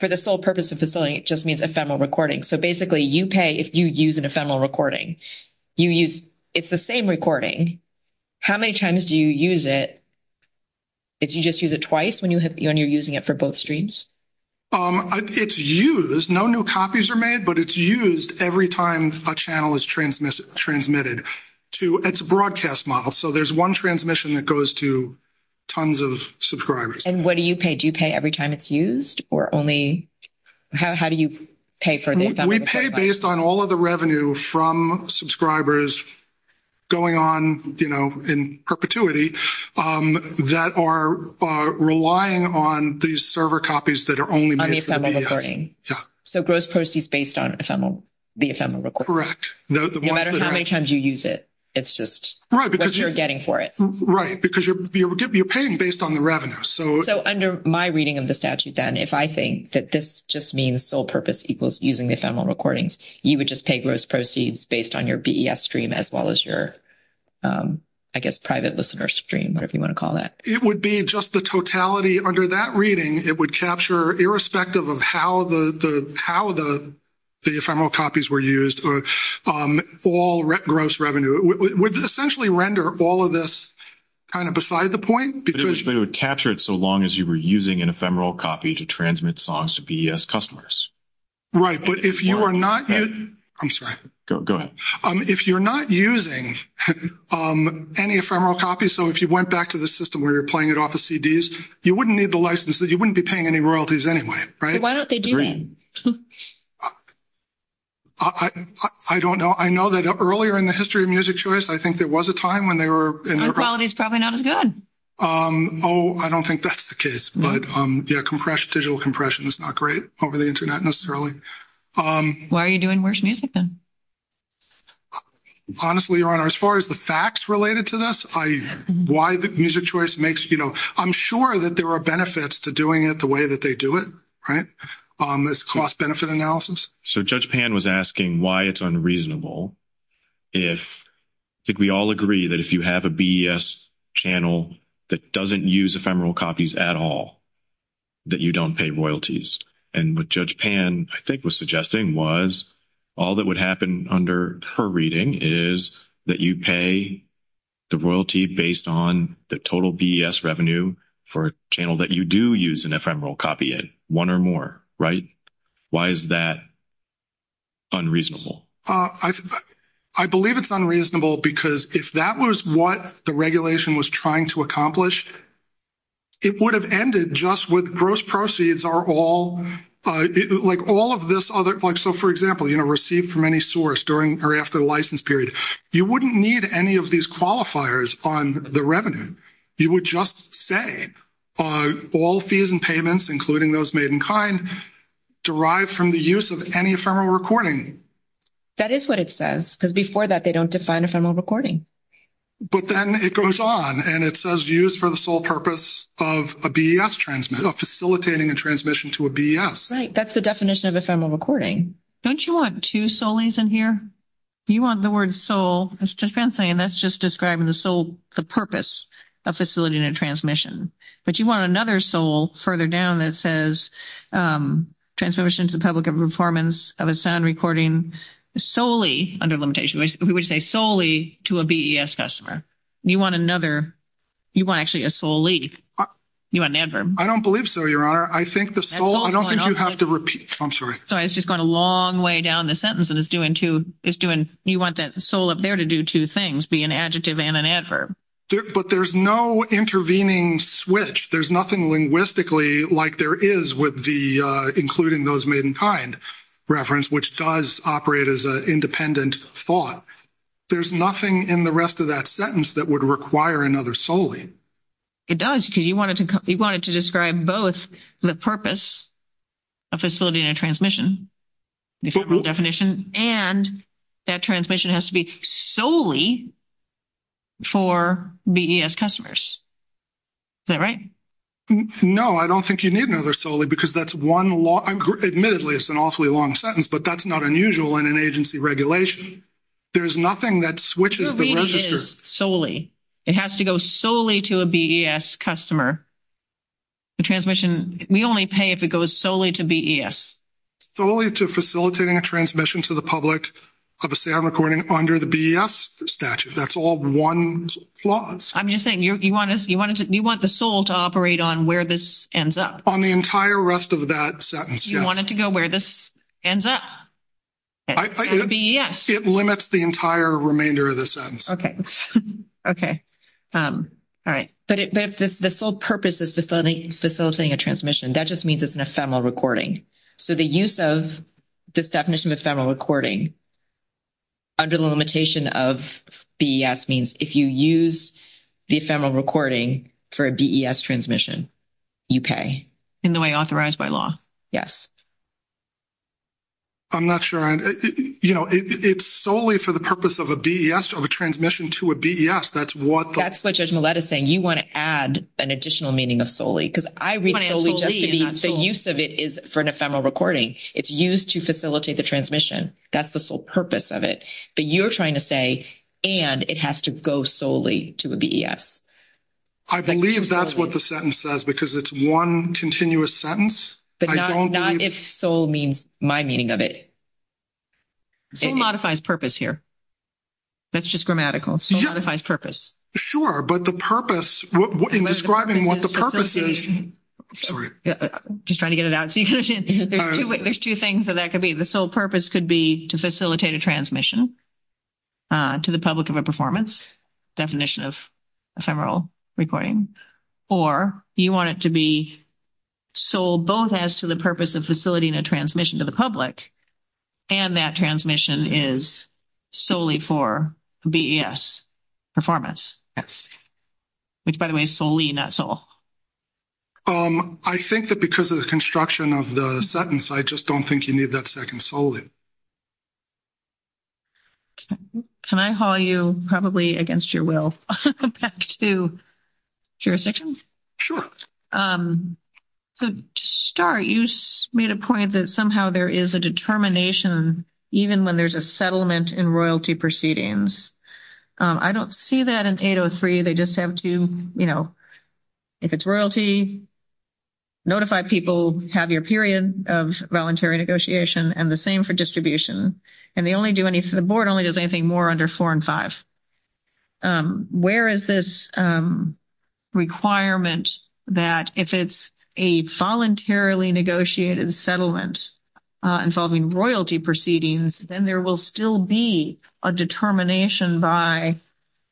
for the sole purpose of facilitating, it just means ephemeral recording. So basically, you pay if you use an ephemeral recording. You use... It's the same recording. How many times do you use it? If you just use it twice when you're using it for both streams? It's used. No new copies are made, but it's used every time a channel is transmitted. It's a broadcast model. So there's one transmission that goes to tons of subscribers. And what do you pay? Do you pay every time it's used? Or only... How do you pay for this? We pay based on all of the revenue from subscribers going on in perpetuity that are relying on these server copies that are only made for BES. So gross proceeds based on the ephemeral recording. Correct. No, the... No matter how many times you use it, it's just what you're getting for it. Right. Because you're paying based on the revenue. So... So under my reading of the statute, then, if I think that this just means sole purpose equals using the ephemeral recordings, you would just pay gross proceeds based on your BES stream as well as your, I guess, private listener stream, whatever you want to call that. It would be just the totality. Under that reading, it would capture irrespective of how the ephemeral copies were used or all gross revenue. It would essentially render all of this kind of beside the point because... It would capture it so long as you were using an ephemeral copy to transmit songs to BES customers. Right. But if you are not using... I'm sorry. Go ahead. If you're not using any ephemeral copies, so if you went back to the system where you're You wouldn't need the license. You wouldn't be paying any royalties anyway, right? Why aren't they doing? I don't know. I know that earlier in the history of Music Choice, I think there was a time when they were... Their quality is probably not as good. Oh, I don't think that's the case. But yeah, compression, digital compression is not great over the internet necessarily. Why are you doing worse music then? Honestly, Your Honor, as far as the facts related to this, I... Music Choice makes... I'm sure that there are benefits to doing it the way that they do it, right? This cost benefit analysis. So Judge Pan was asking why it's unreasonable if... I think we all agree that if you have a BES channel that doesn't use ephemeral copies at all, that you don't pay royalties. And what Judge Pan, I think, was suggesting was all that would happen under her reading is that you pay the royalty based on the total BES revenue for a channel that you do use an ephemeral copy in, one or more, right? Why is that unreasonable? I believe it's unreasonable because if that was what the regulation was trying to accomplish, it would have ended just with gross proceeds are all... Like all of this other... So for example, you know, received from any source during or after the license period, you wouldn't need any of these qualifiers on the revenue. You would just say all fees and payments, including those made in kind, derived from the use of any ephemeral recording. That is what it says because before that, they don't define ephemeral recording. But then it goes on and it says used for the sole purpose of a BES transmit, of facilitating a transmission to a BES. Right. That's the definition of ephemeral recording. Don't you want two soles in here? You want the word sole, as Judge Pan's saying, that's just describing the sole, the purpose of facilitating a transmission. But you want another sole further down that says transmission to the public of performance of a sound recording solely under limitation. We would say solely to a BES customer. You want another... You want actually a sole lead. You want an adverb. I don't believe so, Your Honor. I don't think you have to repeat. I'm sorry. It's just going a long way down the sentence. You want that sole up there to do two things, be an adjective and an adverb. But there's no intervening switch. There's nothing linguistically like there is with the including those made in kind reference, which does operate as an independent thought. There's nothing in the rest of that sentence that would require another sole lead. It does. Because you wanted to describe both the purpose of facilitating a transmission, definition, and that transmission has to be solely for BES customers. Is that right? No, I don't think you need another sole lead because that's one long... Admittedly, it's an awfully long sentence, but that's not unusual in an agency regulation. There's nothing that switches... Solely. It has to go solely to a BES customer. The transmission, we only pay if it goes solely to BES. Solely to facilitating a transmission to the public of a sound recording under the BES statute. That's all one clause. I'm just saying you want the sole to operate on where this ends up. On the entire rest of that sentence, yes. You want it to go where this ends up, for BES. It limits the entire remainder of the sentence. Okay. Okay. All right. But the sole purpose of facilitating a transmission, that just means it's an ephemeral recording. So the use of this definition of ephemeral recording under the limitation of BES means if you use the ephemeral recording for a BES transmission, you pay. In the way authorized by law, yes. I'm not sure. You know, it's solely for the purpose of a BES or a transmission to a BES. That's what... That's what Judge Millett is saying. You want to add an additional meaning of solely because I read solely just to be... ...the use of it is for an ephemeral recording. It's used to facilitate the transmission. That's the sole purpose of it. But you're trying to say, and it has to go solely to a BES. I believe that's what the sentence says because it's one continuous sentence. But not... If sole means my meaning of it. Sole modifies purpose here. That's just grammatical. Sole modifies purpose. Sure. But the purpose... In describing what the purpose is... Sorry. Just trying to get it out. There's two things that that could be. The sole purpose could be to facilitate a transmission to the public of a performance definition of ephemeral recording. Or you want it to be sole both as to the purpose of facilitating a transmission to the public. And that transmission is solely for BES performance. Which, by the way, is solely, not sole. I think that because of the construction of the sentence, I just don't think you need that second solely. Can I call you probably against your will back to... Jurisdictions? So to start, you made a point that somehow there is a determination even when there's a settlement in royalty proceedings. I don't see that in 803. They just have to, you know, if it's royalty, notify people, have your period of voluntary negotiation. And the same for distribution. And they only do any... The board only does anything more under four and five. Um, where is this, um, requirement that if it's a voluntarily negotiated settlement involving royalty proceedings, then there will still be a determination by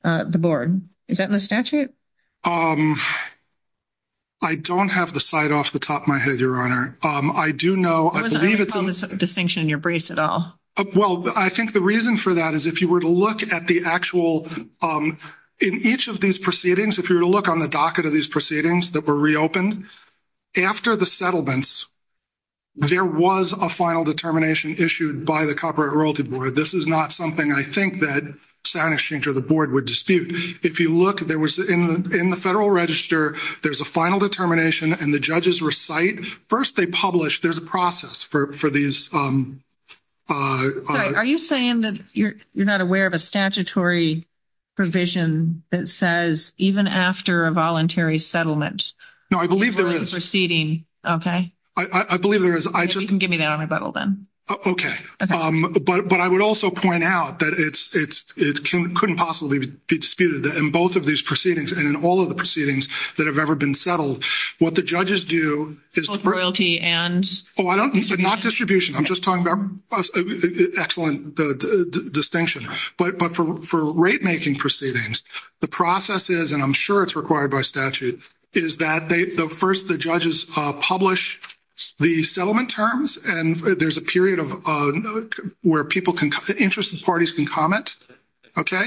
the board. Is that in the statute? I don't have the site off the top of my head, Your Honor. I do know... I don't see a distinction in your briefs at all. Well, I think the reason for that is if you were to look at the actual... In each of these proceedings, if you were to look on the docket of these proceedings that were reopened, after the settlements, there was a final determination issued by the Corporate Royalty Board. This is not something I think that Stanischinger, the board, would dispute. If you look, there was in the federal register, there's a final determination and the judges recite. First, they publish. There's a process for these... Are you saying that you're not aware of a statutory provision that says, even after a voluntary settlement... No, I believe there is. ...proceeding. Okay. I believe there is. If you can give me that on a bubble then. Okay. But I would also point out that it couldn't possibly be disputed in both of these proceedings and in all of the proceedings that have ever been settled. What the judges do is... Royalty and... Oh, I don't... Not distribution. I'm just talking about... Excellent distinction. But for rate-making proceedings, the process is, and I'm sure it's required by statute, is that they... First, the judges publish the settlement terms, and there's a period where people can... Interested parties can comment, okay?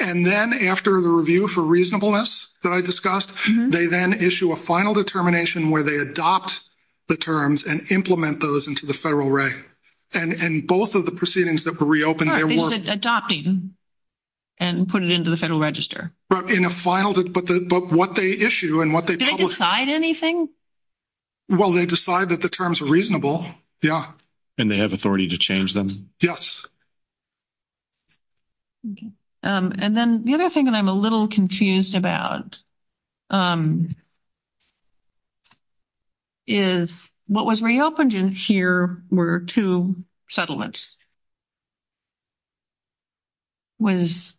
And then after the review for reasonableness that I discussed, they then issue a final determination where they adopt the terms and implement those into the federal rate. And in both of the proceedings that were reopened, there were... Right, they said adopting and put it into the federal register. Right, in a final... But what they issue and what they publish... Do they decide anything? Well, they decide that the terms are reasonable, yeah. And they have authority to change them? Yes. And then the other thing that I'm a little confused about is what was reopened in here were two settlements. Was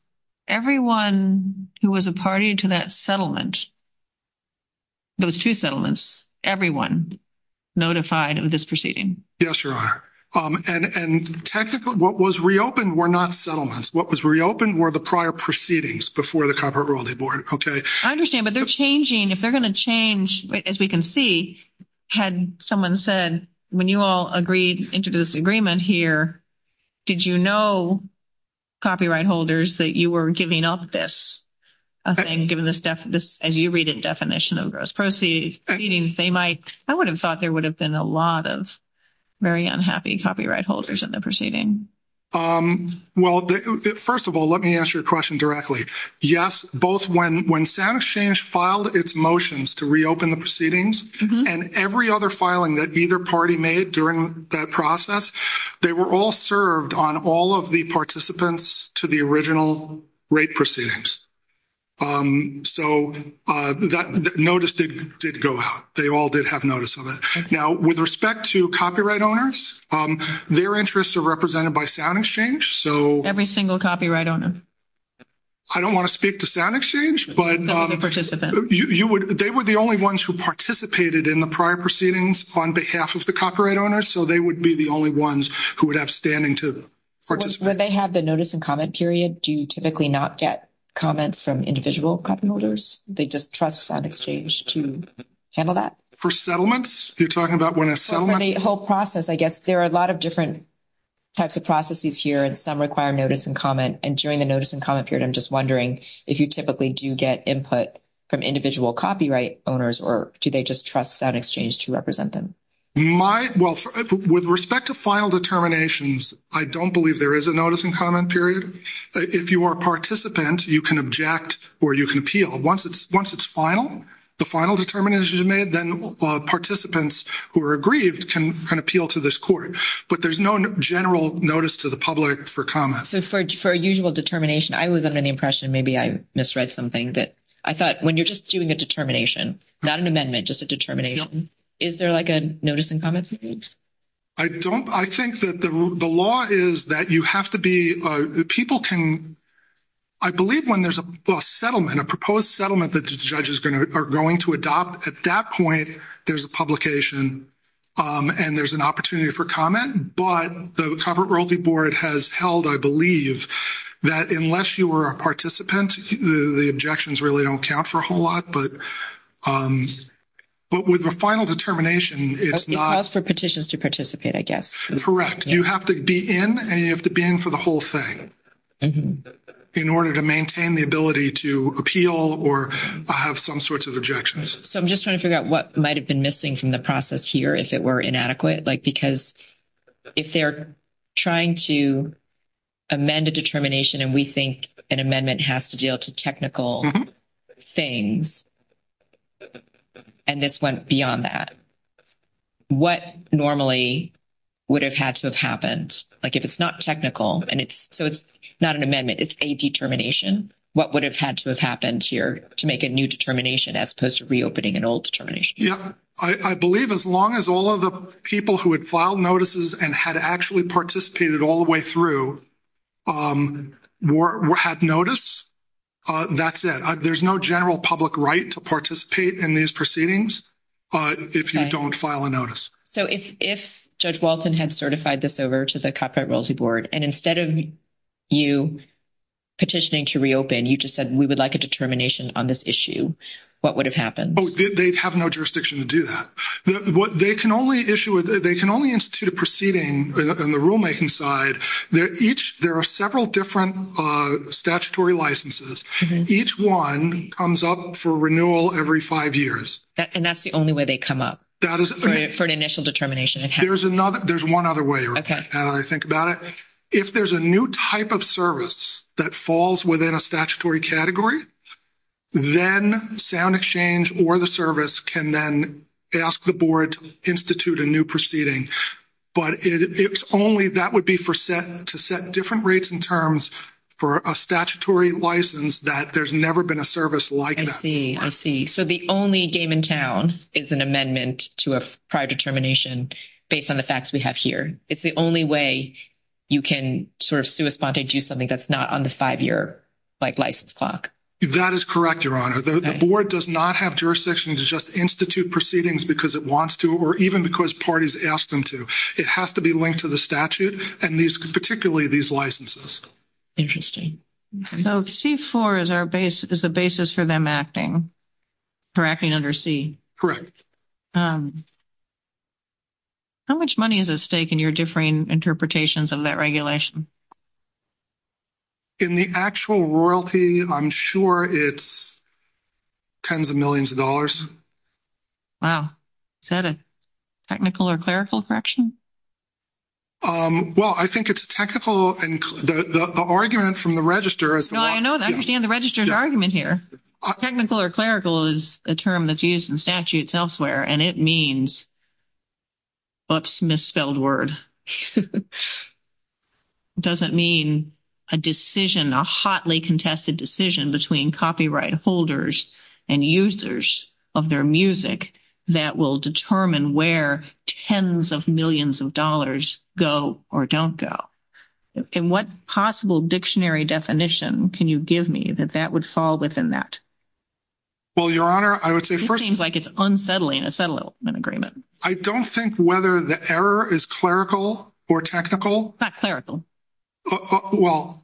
everyone who was a party to that settlement, those two settlements, everyone notified of this proceeding? Yes, Your Honor. And technically, what was reopened were not settlements. What was reopened were the prior proceedings before the Comparative Royalty Board, okay? I understand. But they're changing. If they're going to change, as we can see, had someone said, when you all agreed into this agreement here, did you know, copyright holders, that you were giving up this? Okay. As you read it, definition of gross proceedings, they might... I would have thought there would have been a lot of very unhappy copyright holders in the proceeding. Well, first of all, let me answer your question directly. Yes, both when SoundExchange filed its motions to reopen the proceedings and every other filing that either party made during that process, they were all served on all of the participants to the original rate proceedings. So that notice did go out. They all did have notice of it. Now, with respect to copyright owners, their interests are represented by SoundExchange, so... Every single copyright owner. I don't want to speak to SoundExchange. But... They were the only ones who participated in the prior proceedings on behalf of the copyright owners. So they would be the only ones who would have standing to participate. When they have the notice and comment period, do you typically not get comments from individual copyright holders? They just trust SoundExchange to handle that? For settlements? You're talking about when a settlement... For the whole process, I guess. There are a lot of different types of processes here, and some require notice and comment. And during the notice and comment period, I'm just wondering if you typically do get input from individual copyright owners, or do they just trust SoundExchange to represent them? My... Well, with respect to final determinations, I don't believe there is a notice and comment period. If you are a participant, you can object or you can appeal. Once it's final, the final determination is made, then participants who are aggrieved can appeal to this court. But there's no general notice to the public for comments. For a usual determination, I was under the impression, maybe I misread something, that I thought when you're just doing a determination, not an amendment, just a determination, is there like a notice and comment period? I don't... I think that the law is that you have to be... People can... I believe when there's a settlement, a proposed settlement that the judge is going to adopt, at that point, there's a publication and there's an opportunity for comment. But the Corporate Royalty Board has held, I believe, that unless you were a participant, the objections really don't count for a whole lot. But with the final determination, it's not... It's for petitions to participate, I guess. Correct. You have to be in and you have to be in for the whole thing in order to maintain the ability to appeal or have some sorts of objections. So I'm just trying to figure out what might have been missing from the process here if it were inadequate. Because if they're trying to amend a determination and we think an amendment has to deal to technical things, and this went beyond that, what normally would have had to have happened? Like if it's not technical and it's... So it's not an amendment, it's a determination. What would have had to have happened here to make a new determination as opposed to reopening an old determination? Yeah. I believe as long as all of the people who had filed notices and had actually participated all the way through had notice, that's it. There's no general public right to participate in these proceedings if you don't file a notice. So if Judge Walton had certified this over to the Corporate Royalty Board and instead of you petitioning to reopen, you just said, we would like a determination on this issue, what would have happened? They have no jurisdiction to do that. They can only institute a proceeding on the rulemaking side. There are several different statutory licenses. Each one comes up for renewal every five years. And that's the only way they come up for an initial determination? There's one other way I think about it. If there's a new type of service that falls within a statutory category, then SoundExchange or the service can then ask the board to institute a new proceeding. But it's only that would be to set different rates and terms for a statutory license that there's never been a service like that. I see. I see. So the only game in town is an amendment to a prior determination based on the facts we have here. It's the only way you can sort of sui sponte do something that's not on the five-year license clock. That is correct, Your Honor. The board does not have jurisdiction to just institute proceedings because it wants to, or even because parties ask them to. It has to be linked to the statute and particularly these licenses. So C-4 is a basis for them acting, for acting under C? Correct. How much money is at stake in your differing interpretations of that regulation? In the actual royalty, I'm sure it's tens of millions of dollars. Wow. Is that a technical or clerical correction? Well, I think it's technical and the argument from the register is... No, I know. I understand the register's argument here. Technical or clerical is a term that's used in statutes elsewhere, and it means... Oops, misspelled word. ...doesn't mean a decision, a hotly contested decision between copyright holders and users of their music that will determine where tens of millions of dollars go or don't go. And what possible dictionary definition can you give me that that would fall within that? Well, Your Honor, I would say first... It seems like it's unsettling, a settlement agreement. I don't think whether the error is clerical or technical. Not clerical. Well...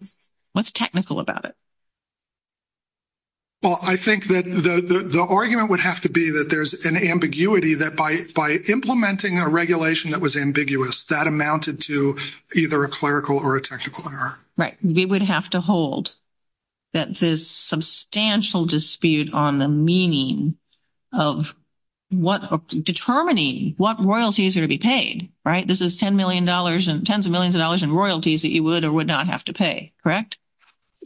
What's technical about it? Well, I think that the argument would have to be that there's an ambiguity that by implementing a regulation that was ambiguous, that amounted to either a clerical or a technical error. Right. We would have to hold that this substantial dispute on the meaning of determining what royalty is going to be paid, right? This is tens of millions of dollars in royalties that you would or would not have to pay, correct?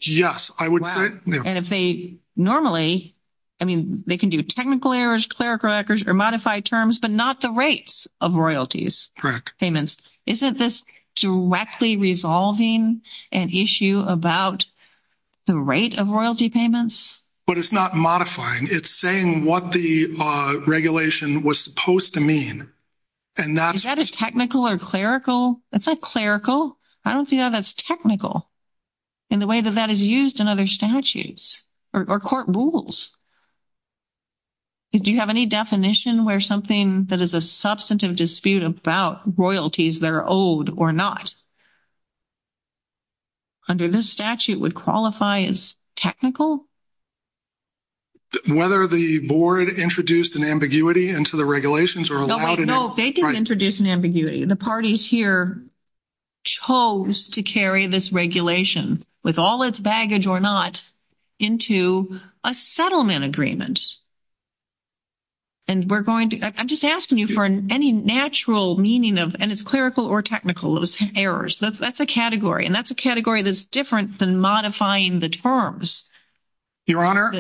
Yes, I would say, yeah. And if they normally, I mean, they can do technical errors, clerical errors, or modified terms, but not the rates of royalties. Correct. Payments. Isn't this directly resolving an issue about the rate of royalty payments? But it's not modifying. It's saying what the regulation was supposed to mean. And that's... Is technical or clerical? It's not clerical. I don't see how that's technical in the way that that is used in other statutes or court rules. Do you have any definition where something that is a substantive dispute about royalties that are owed or not under this statute would qualify as technical? Whether the board introduced an ambiguity into the regulations or allowed... They didn't introduce an ambiguity. The parties here chose to carry this regulation, with all its baggage or not, into a settlement agreement. And we're going to... I'm just asking you for any natural meaning of, and it's clerical or technical, those errors. That's a category. And that's a category that's different than modifying the terms. Your Honor,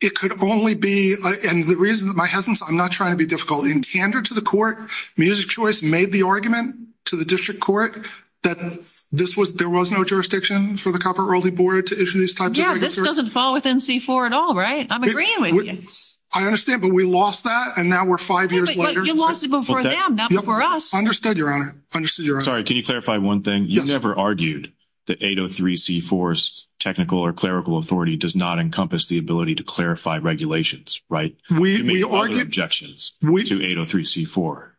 it could only be... And the reason that my husband's... I'm not trying to be difficult. In candor to the court, Music Choice made the argument to the district court that there was no jurisdiction for the Copyright Royalty Board to issue these types of regulations. Yeah, this doesn't fall within C-4 at all, right? I'm agreeing with you. I understand, but we lost that, and now we're five years later. But you lost it before them, not before us. Understood, Your Honor. Understood, Your Honor. Can you clarify one thing? You never argued that 803 C-4's technical or clerical authority does not encompass the ability to clarify regulations, right? You made other objections to 803 C-4.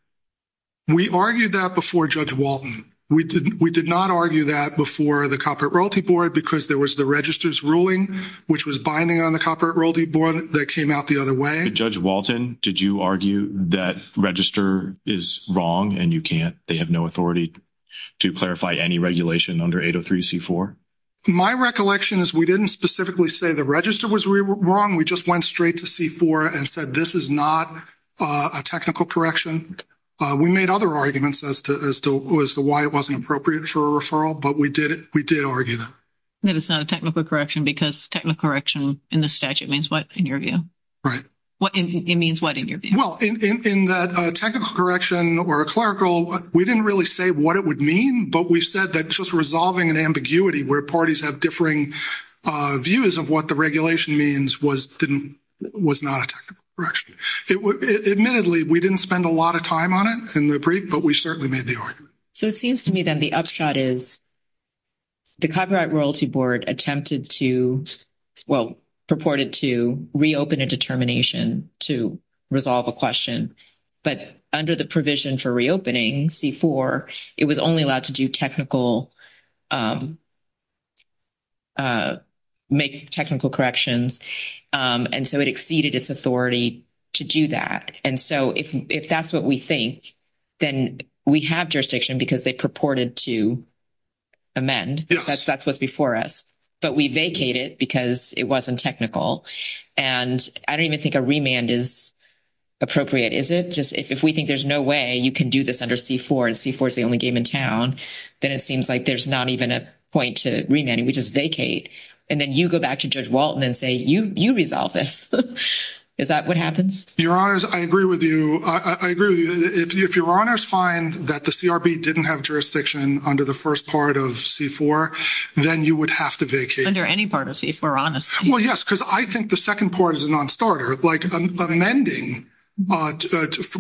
We argued that before Judge Walton. We did not argue that before the Copyright Royalty Board because there was the register's ruling, which was binding on the Copyright Royalty Board, that came out the other way. Judge Walton, did you argue that register is wrong and they have no authority to clarify any regulation under 803 C-4? My recollection is we didn't specifically say the register was wrong. We just went straight to C-4 and said this is not a technical correction. We made other arguments as to why it wasn't appropriate for a referral, but we did argue that. That it's not a technical correction because technical correction in the statute means what, in your view? Right. What it means what, in your view? Well, in that technical correction or clerical, we didn't really say what it would mean, but we said that just resolving an ambiguity where parties have differing views of what the regulation means was not a technical correction. Admittedly, we didn't spend a lot of time on it in the brief, but we certainly made the argument. So it seems to me then the upshot is the Copyright Royalty Board attempted to, well, purported to reopen a determination to resolve a question, but under the provision for reopening C-4, it was only allowed to do technical, make technical corrections, and so it exceeded its authority to do that. And so if that's what we think, then we have jurisdiction because they purported to amend. That's what's before us. But we vacated because it wasn't technical. And I don't even think a remand is appropriate, is it? Just if we think there's no way you can do this under C-4 and C-4 is the only game in town, then it seems like there's not even a point to remand. We just vacate. And then you go back to Judge Walton and say, you resolve this. Is that what happens? Your Honors, I agree with you. I agree with you. If Your Honors find that the CRB didn't have jurisdiction under the first part of C-4, then you would have to vacate. Under any part of C-4, honestly. Well, yes, because I think the second part is a non-starter, like an amending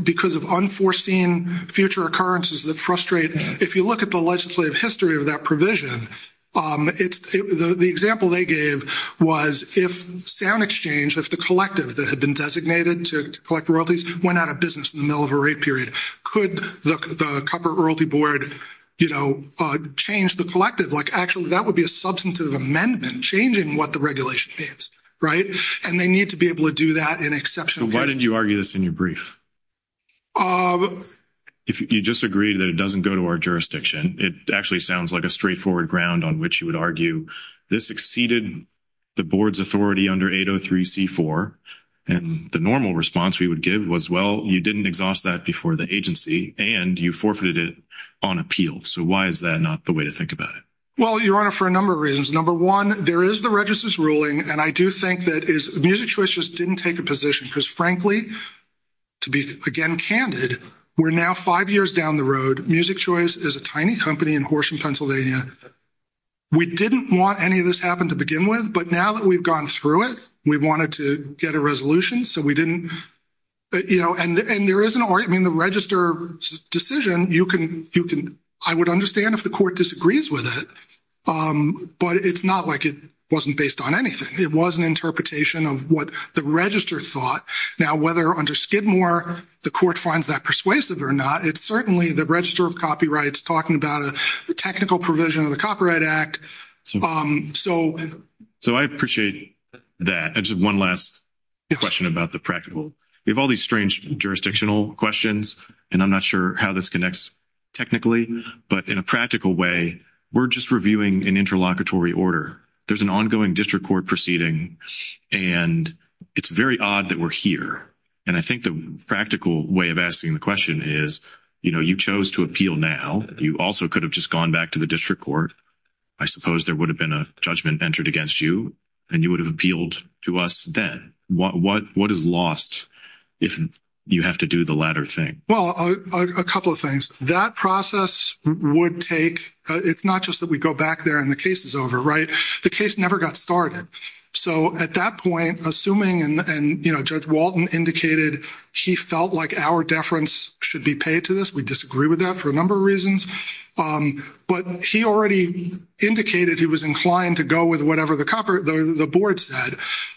because of unforeseen future occurrences that frustrate. If you look at the legislative history of that provision, the example they gave was if sound exchange, if the collective that had been designated to collect royalties went out of business in the middle of a rate period, could the Copper Royalty Board, you know, change the collective? Like, actually, that would be a substantive amendment changing what the regulation is, right? And they need to be able to do that in exception. Why did you argue this in your brief? If you disagree that it doesn't go to our jurisdiction, it actually sounds like a straightforward ground on which you would argue this exceeded the Board's authority under 803-C-4. And the normal response we would give was, well, you didn't exhaust that before the agency, and you forfeited it on appeal. So why is that not the way to think about it? Well, Your Honor, for a number of reasons. Number one, there is the register's ruling, and I do think that Music Choice just didn't take a position because, frankly, to be, again, candid, we're now five years down the road. Music Choice is a tiny company in Horsham, Pennsylvania. We didn't want any of this to happen to begin with, but now that we've gone through it, we wanted to get a resolution, so we didn't, you know, and there is an register decision. I would understand if the court disagrees with it, but it's not like it wasn't based on anything. It was an interpretation of what the register thought. Now, whether under Skidmore the court finds that persuasive or not, it's certainly the register of copyrights talking about a technical provision of the Copyright Act. So I appreciate that. I just have one last question about the practical. We have all jurisdictional questions, and I'm not sure how this connects technically, but in a practical way, we're just reviewing an interlocutory order. There's an ongoing district court proceeding, and it's very odd that we're here, and I think the practical way of asking the question is, you know, you chose to appeal now. You also could have just gone back to the district court. I suppose there would have been a judgment entered against you, and you would have appealed to us then. What is lost if you have to do the latter thing? Well, a couple of things. That process would take—it's not just that we go back there and the case is over, right? The case never got started. So at that point, assuming, and Judge Walton indicated he felt like our deference should be paid to this—we disagree with that for a number of reasons—but he already indicated he was inclined to go with whatever the board said.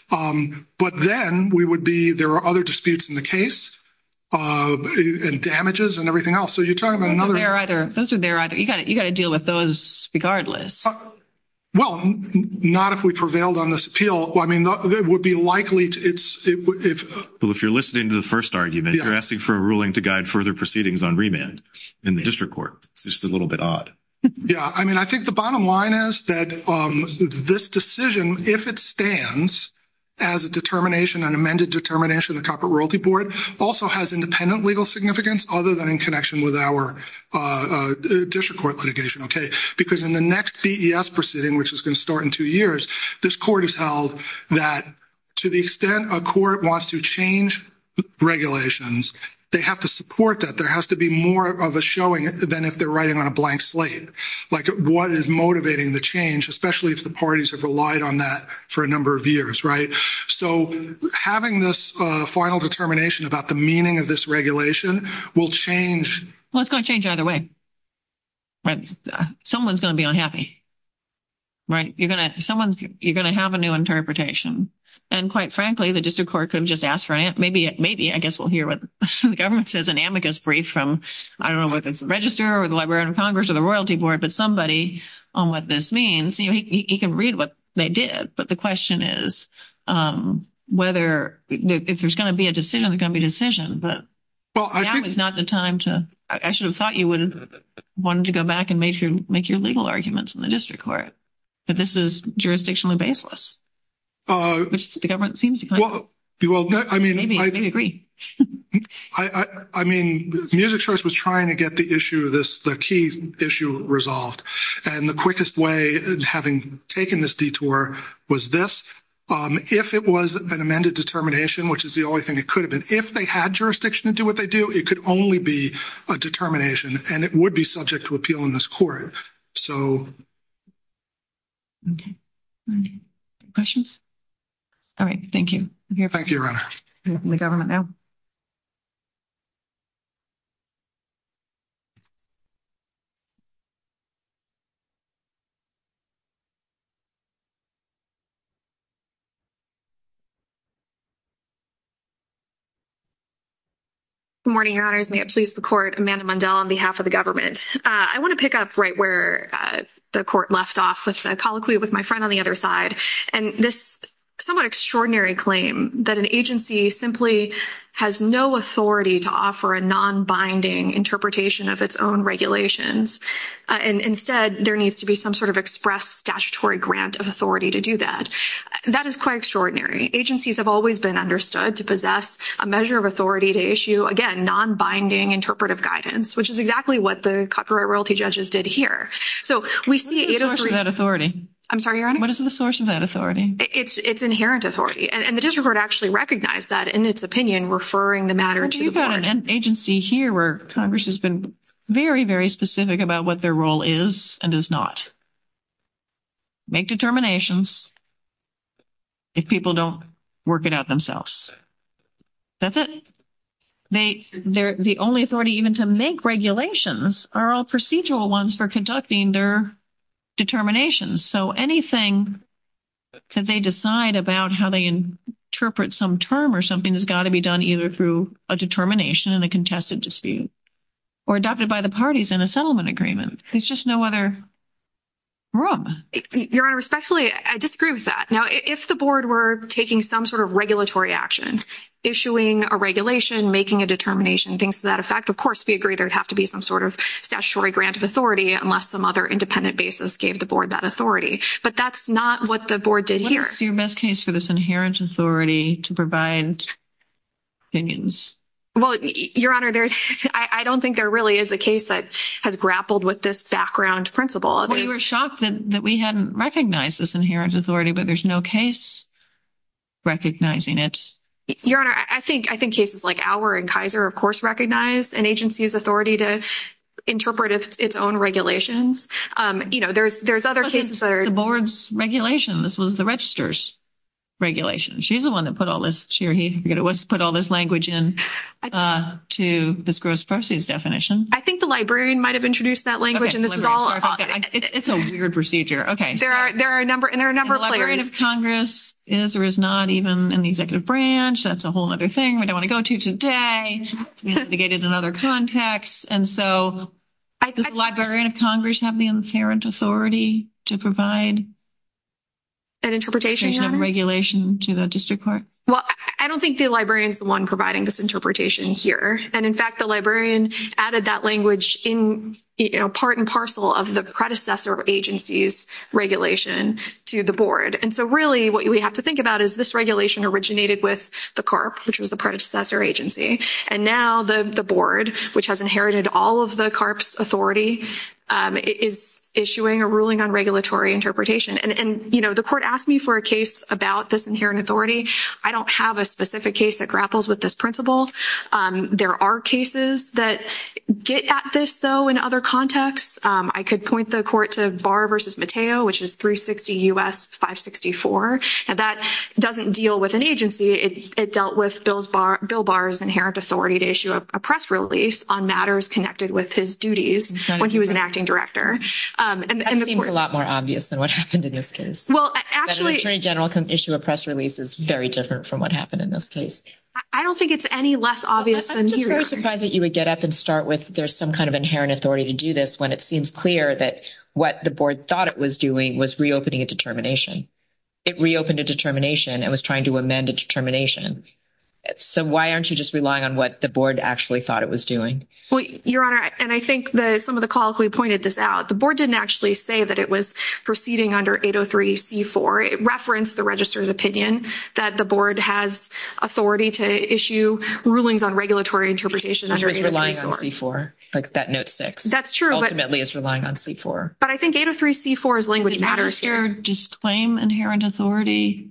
But then we would be—there are other disputes in the case and damages and everything else. So you're talking about another— Those are there either. You've got to deal with those regardless. Well, not if we prevailed on this appeal. I mean, there would be likely to— So if you're listening to the first argument, you're asking for a ruling to guide further proceedings on remand in the district court. It's just a little bit odd. Yeah. I mean, I think the bottom line is that this decision, if it stands as a determination, an amended determination of the Corporate Royalty Board, also has independent legal significance other than in connection with our district court litigation, okay? Because in the next CES proceeding, which is going to start in two years, this court has held that to the extent a court wants to change regulations, they have to support that. There has to be more of a showing than if they're writing on a blank slate. Like, what is motivating the change, especially if the parties have relied on that for a number of years, right? So having this final determination about the meaning of this regulation will change— Well, it's going to change either way, right? Someone's going to be unhappy, right? You're going to—someone's—you're going to have a new interpretation. And quite frankly, the district court could have just asked for it. Maybe, I guess, we'll hear what the government says in Amicus brief from, I don't know whether it's the Register or the Library of Congress or the Royalty Board, but somebody on what this means. You can read what they did, but the question is whether—if there's going to be a decision, there's going to be a decision, but now is not the time to—I should have thought you wanted to go back and make your legal arguments in the district court, but this is jurisdictionally baseless, which the government seems to— Well, I mean— Maybe, I agree. I mean, the Music Church was trying to get the issue, the key issue, resolved. And the quickest way, having taken this detour, was this. If it was an amended determination, which is the only thing it could have been, if they had jurisdiction to do what they do, it could only be a determination and it would be subject to appeal in this court. So— Okay. Questions? All right. Thank you. Thank you, Your Honor. I'll open the government now. Good morning, Your Honors. May it please the Court, Amanda Mundell on behalf of the government. I want to pick up right where the Court left off with a colloquy with my friend on the other side and this somewhat extraordinary claim that an agency simply has no authority to offer a non-binding interpretation of its own regulations. And instead, there needs to be some sort of express statutory grant of authority to do that. That is quite extraordinary. Agencies have always been understood to possess a measure of authority to issue, again, non-binding interpretive guidance, which is exactly what the copyright royalty judges did here. So we see— What is the source of that authority? I'm sorry, Your Honor? What is the source of that authority? It's inherent authority. And the district court actually recognized that in its opinion, referring the matter into the court. We've got an agency here where Congress has been very, very specific about what their role is and does not make determinations if people don't work it out themselves. That's it. They—the only authority even to make regulations are all procedural ones for conducting their determinations. So anything that they decide about how they interpret some term or something has got to be done either through a determination and a contested dispute or adopted by the parties in a settlement agreement. There's just no other rule. Your Honor, respectfully, I disagree with that. Now, if the board were taking some sort of making a determination, things to that effect, of course, we agree there would have to be some sort of statutory grant of authority unless some other independent basis gave the board that authority. But that's not what the board did here. What's your best case for this inherent authority to provide opinions? Well, Your Honor, there's—I don't think there really is a case that has grappled with this background principle. We were shocked that we hadn't recognized this inherent authority, but there's no case recognizing it. Your Honor, I think cases like our and Kaiser, of course, recognize an agency's authority to interpret its own regulations. You know, there's other cases that are— The board's regulation. This was the registrar's regulation. She's the one that put all this—she or he—put all this language in to this gross proceeds definition. I think the librarian might have introduced that language, and this is all— Okay. It's a weird procedure. Okay. There are a number—and there are a number of— The Librarian of Congress is or is not even in the executive branch. That's a whole other thing we don't want to go to today. We have to get into another context. And so does the Librarian of Congress have the inherent authority to provide— An interpretation, Your Honor? —regulation to the district court? Well, I don't think the librarian is the one providing this interpretation here. And in fact, the librarian added that language in, you know, part and parcel of the predecessor agency's regulation to the board. And so really what we have to think about is this regulation originated with the CARP, which was the predecessor agency. And now the board, which has inherited all of the CARP's authority, is issuing a ruling on regulatory interpretation. And, you know, the court asked me for a case about this inherent authority. I don't have a specific case that grapples with this principle. There are cases that get at this, though, in other contexts. I could point the court to Barr v. Mateo, which is 360 U.S. 564. And that doesn't deal with an agency. It dealt with Bill Barr's inherent authority to issue a press release on matters connected with his duties when he was an acting director. That seems a lot more obvious than what happened in this case. Well, actually— That an attorney general can issue a press release is very different from what happened in this case. I don't think it's any less obvious than here. I'm surprised that you would get up and start with there's some kind of inherent authority to do this when it seems clear that what the board thought it was doing was reopening a determination. It reopened a determination and was trying to amend a determination. So why aren't you just relying on what the board actually thought it was doing? Well, Your Honor, and I think that some of the calls we pointed this out, the board didn't actually say that it was proceeding under 803c4. It referenced the registrar's opinion that the board has authority to issue rulings on regulatory interpretation under 803c4. So it's relying on c4, like that note 6. That's true, but— Ultimately, it's relying on c4. But I think 803c4's language matters here. Disclaim inherent authority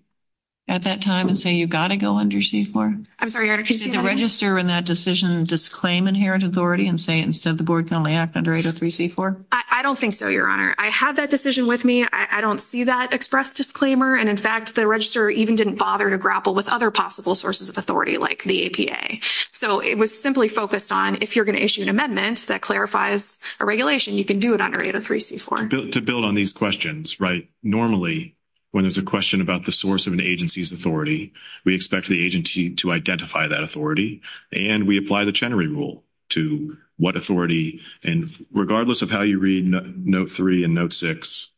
at that time and say you've got to go under c4? I'm sorry, Your Honor, could you— Did the registrar in that decision disclaim inherent authority and say instead the board can only act under 803c4? I don't think so, Your Honor. I had that decision with me. I don't see that expressed disclaimer. And, in fact, the registrar even didn't bother to grapple with other possible sources of authority, like the APA. So it was simply focused on if you're going to issue an amendment that clarifies a regulation, you can do it under 803c4. To build on these questions, right, normally when there's a question about the source of an agency's authority, we expect the agency to identify that authority. And we apply the Chenery Rule to what authority, and regardless of how you read note 3 and note 6,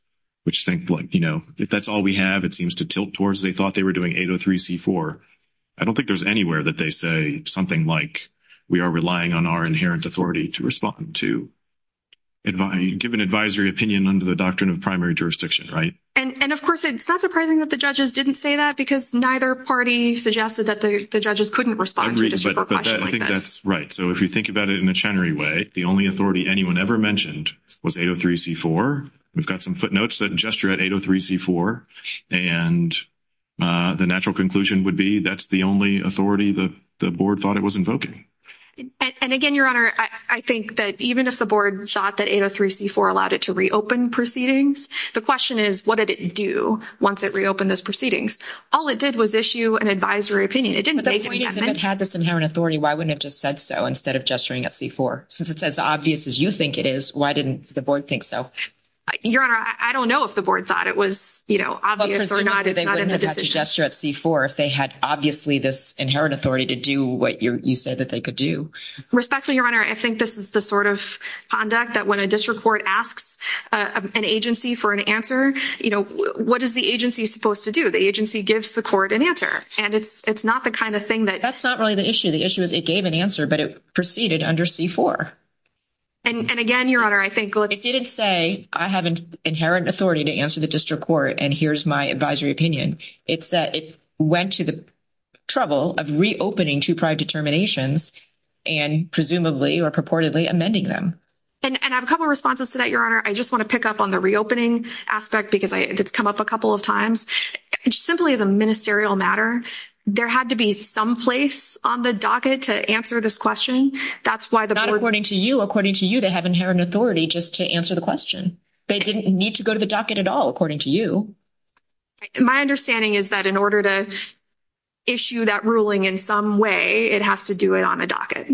which think like, you know, if that's all we have, it seems to tilt towards they thought they were doing 803c4. I don't think there's anywhere that they say something like we are relying on our inherent authority to respond to—give an advisory opinion under the doctrine of primary jurisdiction, right? And, of course, it's not surprising that the judges didn't say that because neither party suggested that the judges couldn't respond to a question like that. I think that's right. So if you think about it in a Chenery way, the only authority anyone ever mentioned was 803c4. We've got some footnotes that gesture at 803c4. And the natural conclusion would be that's the only authority that the board thought it was invoking. And again, Your Honor, I think that even if the board thought that 803c4 allowed it to reopen proceedings, the question is, what did it do once it reopened those proceedings? All it did was issue an advisory opinion. It didn't make any amendments. If it had this inherent authority, why wouldn't it just said so instead of gesturing at c4? Since it's as obvious as you think it is, why didn't the board think so? Your Honor, I don't know if the board thought it was, you know, obvious or not. Because they wouldn't have had to gesture at c4 if they had obviously this inherent authority to do what you said that they could do. Respectfully, Your Honor, I think this is the sort of conduct that when a district court asks an agency for an answer, you know, what is the agency supposed to do? The agency gives the court an answer. And it's not the kind of thing that... That's not really the issue. The issue is it gave an answer, but it proceeded under c4. And again, Your Honor, I think... It didn't say I have an inherent authority to answer the district court and here's my advisory opinion. It's that it went to the trouble of reopening two-pride determinations and presumably or purportedly amending them. And I have a couple of responses to that, Your Honor. I just want to pick up on the reopening aspect because it's come up a couple of times. It's simply a ministerial matter. There had to be some place on the docket to answer this question. That's why the board... They didn't need to go to the docket at all, according to you. My understanding is that in order to issue that ruling in some way, it has to do it on a docket.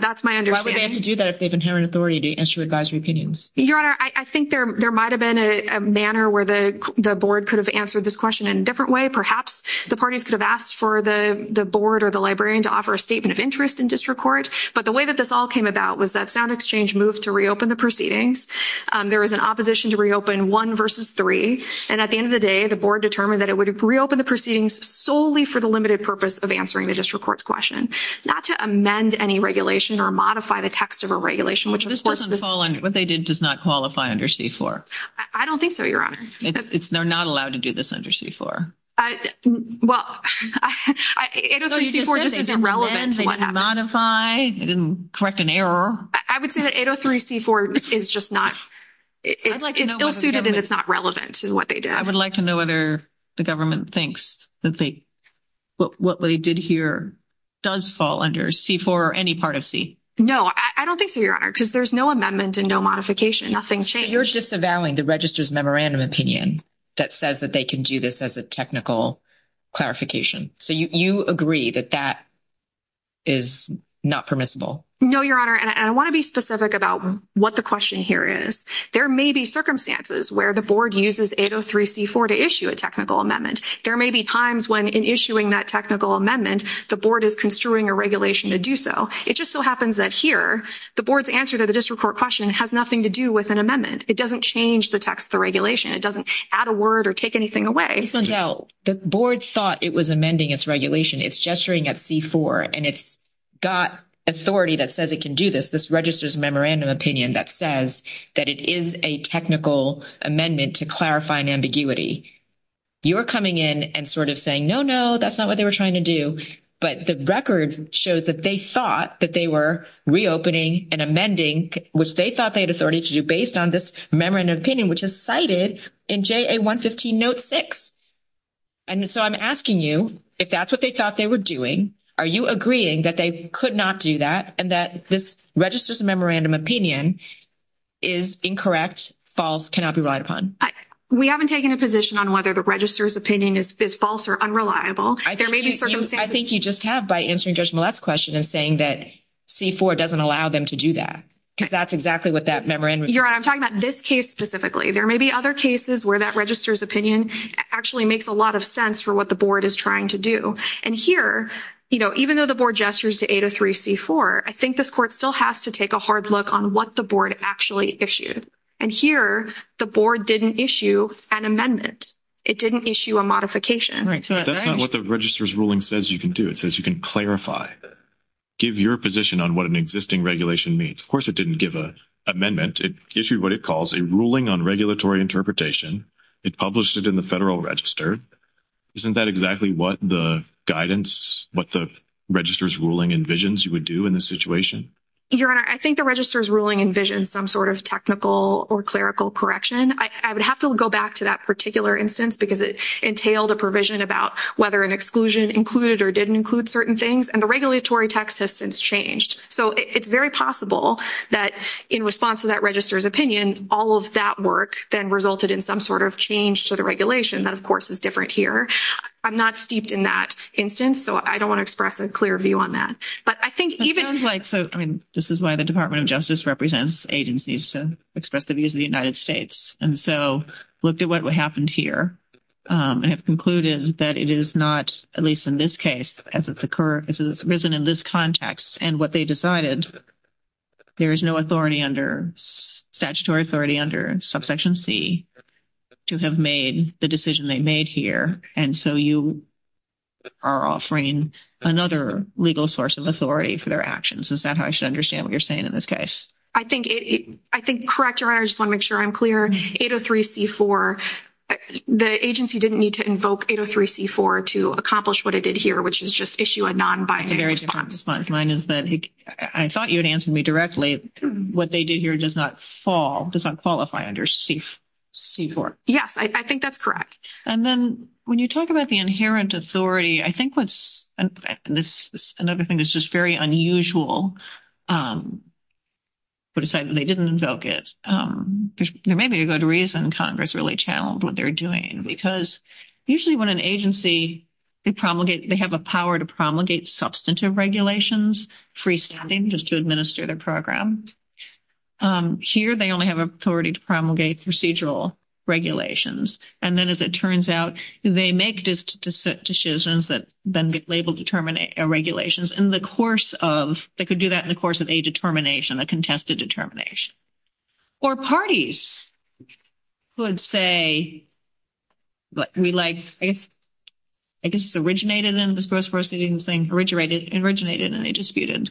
That's my understanding. Why would they have to do that if they have inherent authority to issue advisory opinions? Your Honor, I think there might have been a manner where the board could have answered this question in a different way. Perhaps the parties could have asked for the board or the librarian to offer a statement of interest in district court. But the way that this all came about was that sound exchange moved to reopen the proceedings. There was an opposition to reopen, one versus three. And at the end of the day, the board determined that it would reopen the proceedings solely for the limited purpose of answering the district court's question, not to amend any regulation or modify the text of a regulation, which was... This doesn't fall under... What they did does not qualify under C-4. I don't think so, Your Honor. They're not allowed to do this under C-4. Well, 803-C-4 just isn't relevant to what happened. It didn't amend, it didn't modify, it didn't correct an error. I would say that 803-C-4 is just not... It's ill-suited and it's not relevant to what they did. I would like to know whether the government thinks that what they did here does fall under C-4 or any part of C. No, I don't think so, Your Honor, because there's no amendment and no modification, nothing changed. You're just availing the register's memorandum opinion that says that they can do this as a technical clarification. So you agree that that is not permissible? No, Your Honor, and I want to be specific about what the question here is. There may be circumstances where the board uses 803-C-4 to issue a technical amendment. There may be times when in issuing that technical amendment, the board is construing a regulation to do so. It just so happens that here, the board's answer to the district court question has nothing to do with an amendment. It doesn't change the text of the regulation. It doesn't add a word or take anything away. The board thought it was amending its regulation. It's gesturing at C-4, and it's got authority that says it can do this. This register's memorandum opinion that says that it is a technical amendment to clarify an ambiguity. You're coming in and sort of saying, no, no, that's not what they were trying to do. But the record shows that they thought that they were reopening and amending, which they thought they had authority to do based on this memorandum opinion, which is cited in JA-115 Note 6. And so I'm asking you, if that's what they thought they were doing, are you agreeing that they could not do that and that this register's memorandum opinion is incorrect, false, cannot be relied upon? MARY JO GIOVACCHINI We haven't taken a position on whether the register's opinion is false or unreliable. There may be certain... IVETTE ESTRADA I think you just have by answering Judge Millett's question and saying that C-4 doesn't allow them to do that, because that's exactly what that memorandum... MARY JO GIOVACCHINI You're right. I'm talking about this case specifically. There may be other cases where that register's opinion actually makes a lot of sense for what the board is trying to do. And here, even though the board gestures to 803 C-4, I think this court still has to take a hard look on what the board actually issued. And here, the board didn't issue an amendment. It didn't issue a modification. IVETTE ESTRADA That's not what the register's ruling says you can do. It says you can clarify, give your position on what an existing regulation means. Of course, it didn't give an amendment. It issued what it calls a ruling on regulatory interpretation. It published it in the Federal Register. Isn't that exactly what the guidance, what the register's ruling envisions you would do in this situation? MARY JO GIOVACCHINI Your Honor, I think the register's ruling envisioned some sort of technical or clerical correction. I would have to go back to that particular instance, because it entailed a provision about whether an exclusion included or didn't include certain things, and the regulatory text has since changed. So it's very possible that in response to that register's opinion, all of that work then resulted in some sort of change to the regulation. That, of course, is different here. I'm not steeped in that instance, so I don't want to express a clear view on that. But I think even— IVETTE ESTRADA It sounds like—so, I mean, this is why the Department of Justice represents agencies to express the views of the United States. And so, looked at what happened here, and have concluded that it is not, at least in this case, as it's occurred—as it's written in this context, and what they decided, there is no authority under—statutory authority under Subsection C to have made the decision they made here. And so you are offering another legal source of authority for their actions. Is that how I should understand what you're saying in this case? MARY JO GIOVACCHINI I think—I think—correct, Your Honor. I just want to make sure I'm clear. 803 C-4—the agency didn't need to invoke 803 C-4 to accomplish what it did here, which is just issue a non-binary response. IVETTE ESTRADA A very different response, mine is that—I thought you had answered me directly. What they did here does not fall—does not qualify under C-4. MARY JO GIOVACCHINI Yes, I think that's correct. IVETTE ESTRADA And then, when you talk about the inherent authority, I think what's—this is another thing that's just very unusual, but aside that they didn't invoke it, there may be a good reason Congress really challenged what they're doing, because usually when an agency—they promulgate—they have a power to promulgate substantive regulations, freestanding, just to administer the program. Here, they only have authority to promulgate procedural regulations. And then, as it turns out, they make decisions that then label—determinate regulations. And the course of—they could do that in the course of a determination, a contested determination. Or parties would say—I mean, like, I guess it's originated in the first place, but you're saying originated and they disputed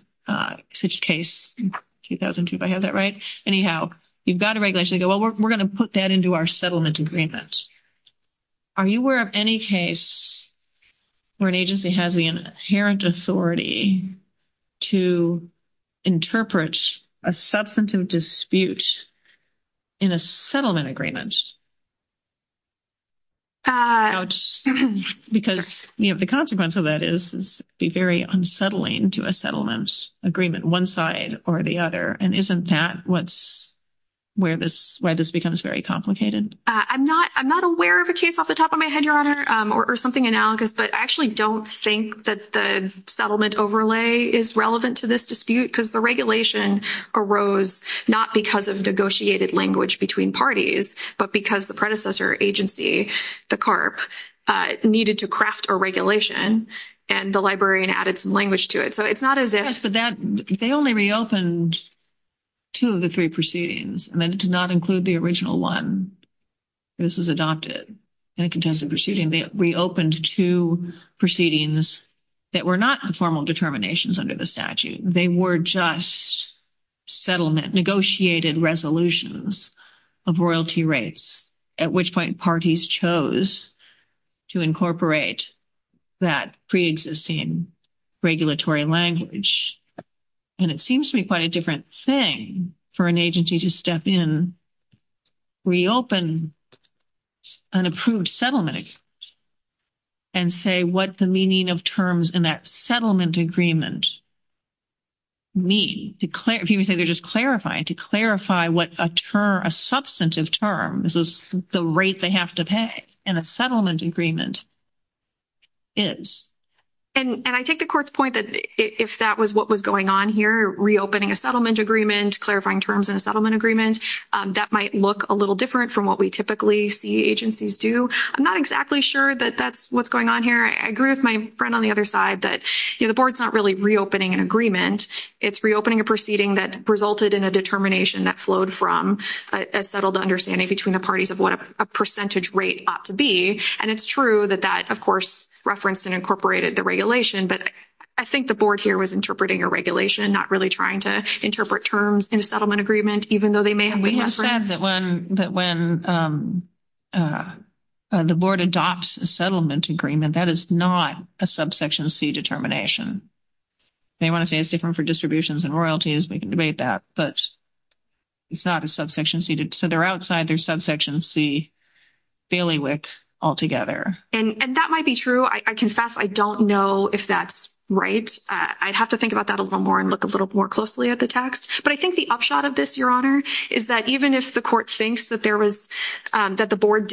such a case in 2002, if I have that right. Anyhow, you've got a regulation, you go, well, we're going to put that into our settlement agreement. Are you aware of any case where an agency has the inherent authority to interpret a substantive dispute in a settlement agreement? Because, you know, the consequence of that is it's very unsettling to a settlement agreement, one side or the other. And isn't that what's—where this becomes very complicated? I'm not aware of a case off the top of my head, Your Honor, or something analogous, but I actually don't think that the settlement overlay is relevant to this dispute because the regulation arose not because of negotiated language between parties, but because the predecessor agency, the CARP, needed to craft a regulation, and the librarian added some language to it. So it's not as if— Yes, but that—they only reopened two of the three proceedings. And then it did not include the original one. This was adopted in a contested proceeding. They reopened two proceedings that were not formal determinations under the statute. They were just settlement, negotiated resolutions of royalty rates, at which point parties chose to incorporate that preexisting regulatory language. And it seems to be quite a different thing for an agency to step in, reopen an approved settlement, and say what the meaning of terms in that settlement agreement mean. People say they're just clarifying, to clarify what a term, a substantive term, this is the rate they have to pay in a settlement agreement, is. And I take the court's point that if that was what was going on here, reopening a settlement agreement, clarifying terms in a settlement agreement, that might look a little different from what we typically see agencies do. I'm not exactly sure that that's what's going on here. I agree with my friend on the other side that, you know, the board's not really reopening an agreement. It's reopening a proceeding that resulted in a determination that flowed from a settled understanding between the parties of what a percentage rate ought to be. And it's true that that, of course, referenced and incorporated the regulation. But I think the board here was interpreting a regulation, not really trying to interpret terms in a settlement agreement, even though they may have been. We have said that when the board adopts a settlement agreement, that is not a subsection C determination. They want to say it's different for distributions and royalties. We can debate that. But it's not a subsection C. So they're outside their subsection C bailiwick altogether. And that might be true. I confess I don't know if that's right. I'd have to think about that a little more and look a little more closely at the text. But I think the upshot of this, Your Honor, is that even if the court thinks that the board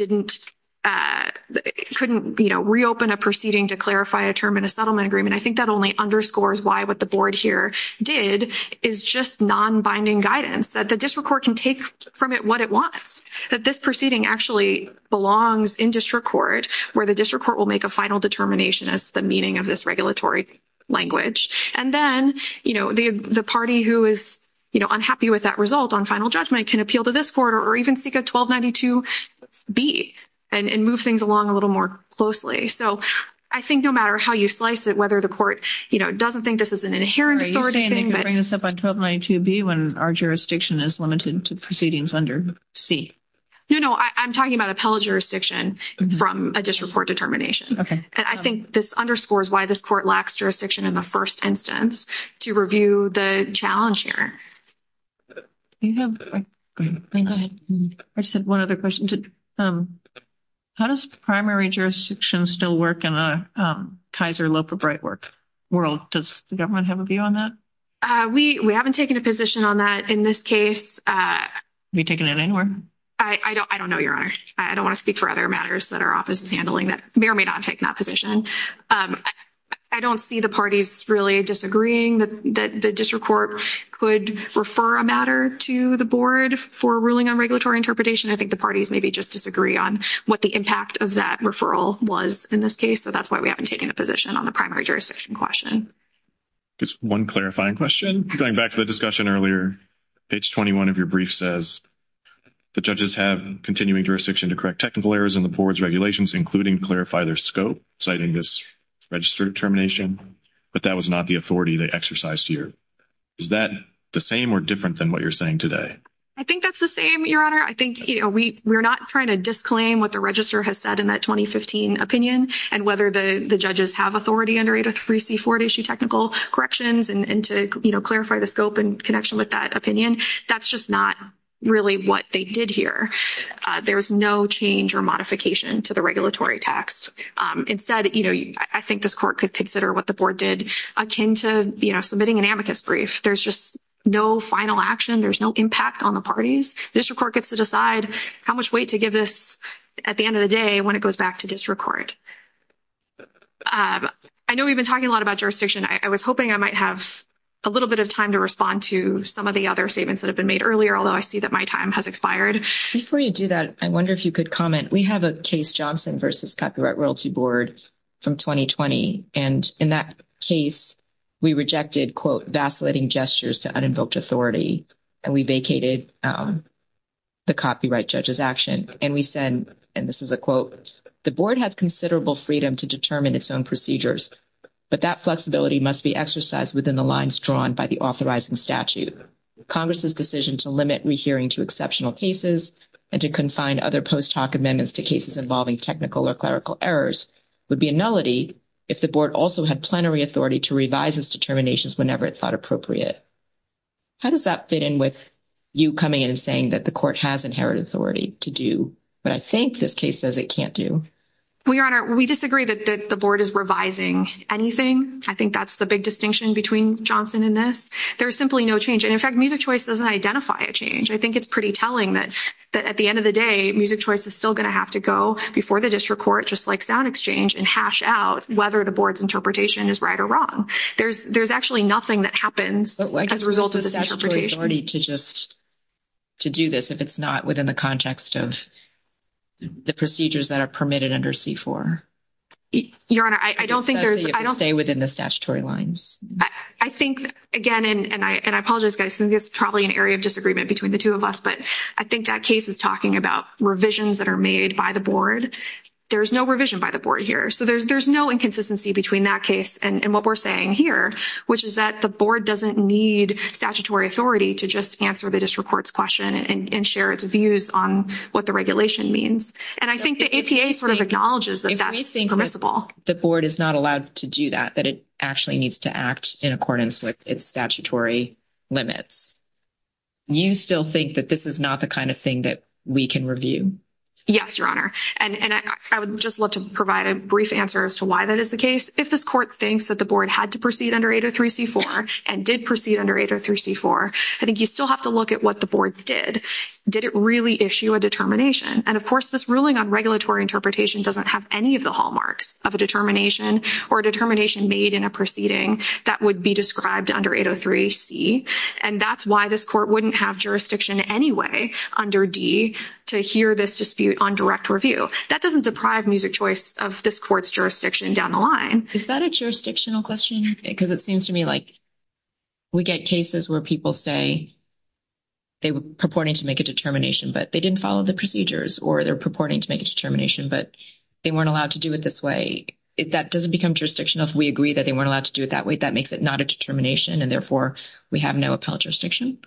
couldn't, you know, reopen a proceeding to clarify a term in a settlement agreement, I think that only underscores why what the board here did is just nonbinding guidance, that the district court can take from it what it wants, that this proceeding actually belongs in district court, where the district court will make a final determination as to the meaning of this regulatory language. And then, you know, the party who is, you know, unhappy with that result on final judgment can appeal to this court or even seek a 1292B and move things along a little more closely. So I think no matter how you slice it, whether the court, you know, doesn't think this is an inherent authority thing. You're bringing us up on 1292B when our jurisdiction is limited to proceedings under C. No, no. I'm talking about appellate jurisdiction from a district court determination. Okay. And I think this underscores why this court lacks jurisdiction in the first instance to review the challenge here. Do you have... I just have one other question. How does primary jurisdiction still work in a Kaiser Loeb or Brightwork world? Does the government have a view on that? We haven't taken a position on that in this case. Have you taken it anywhere? I don't know, Your Honor. I don't want to speak for other matters that our office is handling that may or may not take that position. I don't see the parties really disagreeing that the district court could refer a matter to the board for ruling on regulatory interpretation. I think the parties maybe just disagree on what the impact of that referral was in this case. So that's why we haven't taken a position on the primary jurisdiction question. Just one clarifying question. Going back to the discussion earlier, page 21 of your brief says the judges have continuing jurisdiction to correct technical errors in the board's regulations, including clarify their scope, citing this register determination, but that was not the authority they exercised here. Is that the same or different than what you're saying today? I think that's the same, Your Honor. I think we're not trying to disclaim what the register has said in that 2015 opinion and whether the judges have authority under Ada 3C4 to issue technical corrections and to, you know, clarify the scope in connection with that opinion. That's just not really what they did here. There's no change or modification to the regulatory tax. Instead, you know, I think this court could consider what the board did akin to, you know, submitting an amicus brief. There's just no final action. There's no impact on the parties. District court gets to decide how much weight to give this at the end of the day when it goes back to district court. I know we've been talking a lot about jurisdiction. I was hoping I might have a little bit of time to respond to some of the other statements that have been made earlier, although I see that my time has expired. Before you do that, I wonder if you could comment. We have a Case Johnson v. Copyright Royalty Board from 2020. And in that case, we rejected, quote, vacillating gestures to uninvoked authority. And we vacated the copyright judge's action. And we said, and this is a quote, the board has considerable freedom to determine its own procedures, but that flexibility must be exercised within the lines drawn by the authorizing statute. Congress's decision to limit rehearing to exceptional cases and to confine other post-hoc amendments to cases involving technical or clerical errors would be a nullity if the board also had plenary authority to revise its determinations whenever it thought appropriate. How does that fit in with you coming in and saying that the court has inherited authority to do what I think this case says it can't do? We disagree that the board is revising anything. I think that's the big distinction between Johnson and this. There's simply no change. And in fact, Music Choice doesn't identify a change. I think it's pretty telling that at the end of the day, Music Choice is still going to have to go before the district court, just like sound exchange, and hash out whether the board's interpretation is right or wrong. There's actually nothing that happens as a result of this interpretation. To just to do this if it's not within the context of the procedures that are permitted under C-4? Your Honor, I don't think there's... ...within the statutory lines. I think, again, and I apologize, guys, this is probably an area of disagreement between the two of us, but I think that case is talking about revisions that are made by the board. There's no revision by the board here. So there's no inconsistency between that case and what we're saying here, which is that the board doesn't need statutory authority to just answer the district court's question and share its views on what the regulation means. And I think the APA sort of acknowledges that that's permissible. If we think the board is not allowed to do that, that it actually needs to act in accordance with its statutory limits, you still think that this is not the kind of thing that we can review? Yes, Your Honor. And I would just love to provide a brief answer as to why that is the case. If this court thinks that the board had to proceed under 803c-4 and did proceed under 803c-4, I think you still have to look at what the board did. Did it really issue a determination? And, of course, this ruling on regulatory interpretation doesn't have any of the hallmarks of a determination or a determination made in a proceeding that would be described under 803c, and that's why this court wouldn't have jurisdiction anyway under D to hear this dispute on direct review. That doesn't deprive music choice of this court's jurisdiction down the line. Is that a jurisdictional question? Because it seems to me like we get cases where people say they were purporting to make a determination, but they didn't follow the procedures, or they're purporting to make a determination, but they weren't allowed to do it this way. That doesn't become jurisdictional if we agree that they weren't allowed to do it that way. That makes it not a determination, and therefore we have no appellate jurisdiction.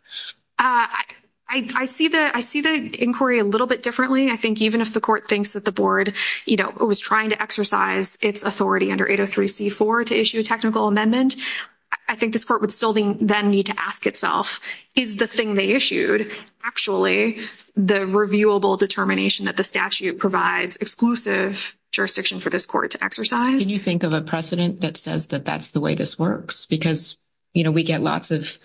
I see the inquiry a little bit differently. I think even if the court thinks that the board, you know, was trying to exercise its authority under 803c-4 to issue a technical amendment, I think this court would still then need to ask itself, is the thing they issued actually the reviewable determination that the statute provides exclusive jurisdiction for this court to exercise? Can you think of a precedent that says that that's the way this works? Because, you know, we get lots of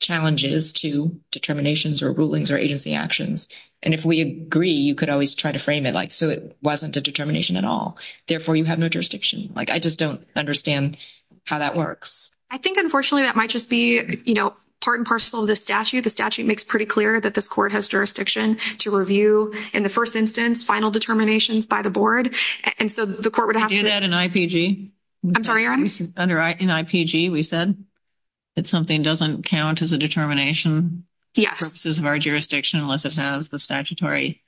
challenges to determinations or rulings or agency actions, and if we agree, you could always try to frame it, like, so it wasn't a determination at all. Therefore, you have no jurisdiction. Like, I just don't understand how that works. I think, unfortunately, that might just be, you know, part and parcel of the statute. The statute makes pretty clear that this court has jurisdiction to review, in the first instance, final determinations by the board. And so the court would have to... Do that in IPG. I'm sorry, your honor? Under IPG, we said that something doesn't count as a determination for purposes of our statutory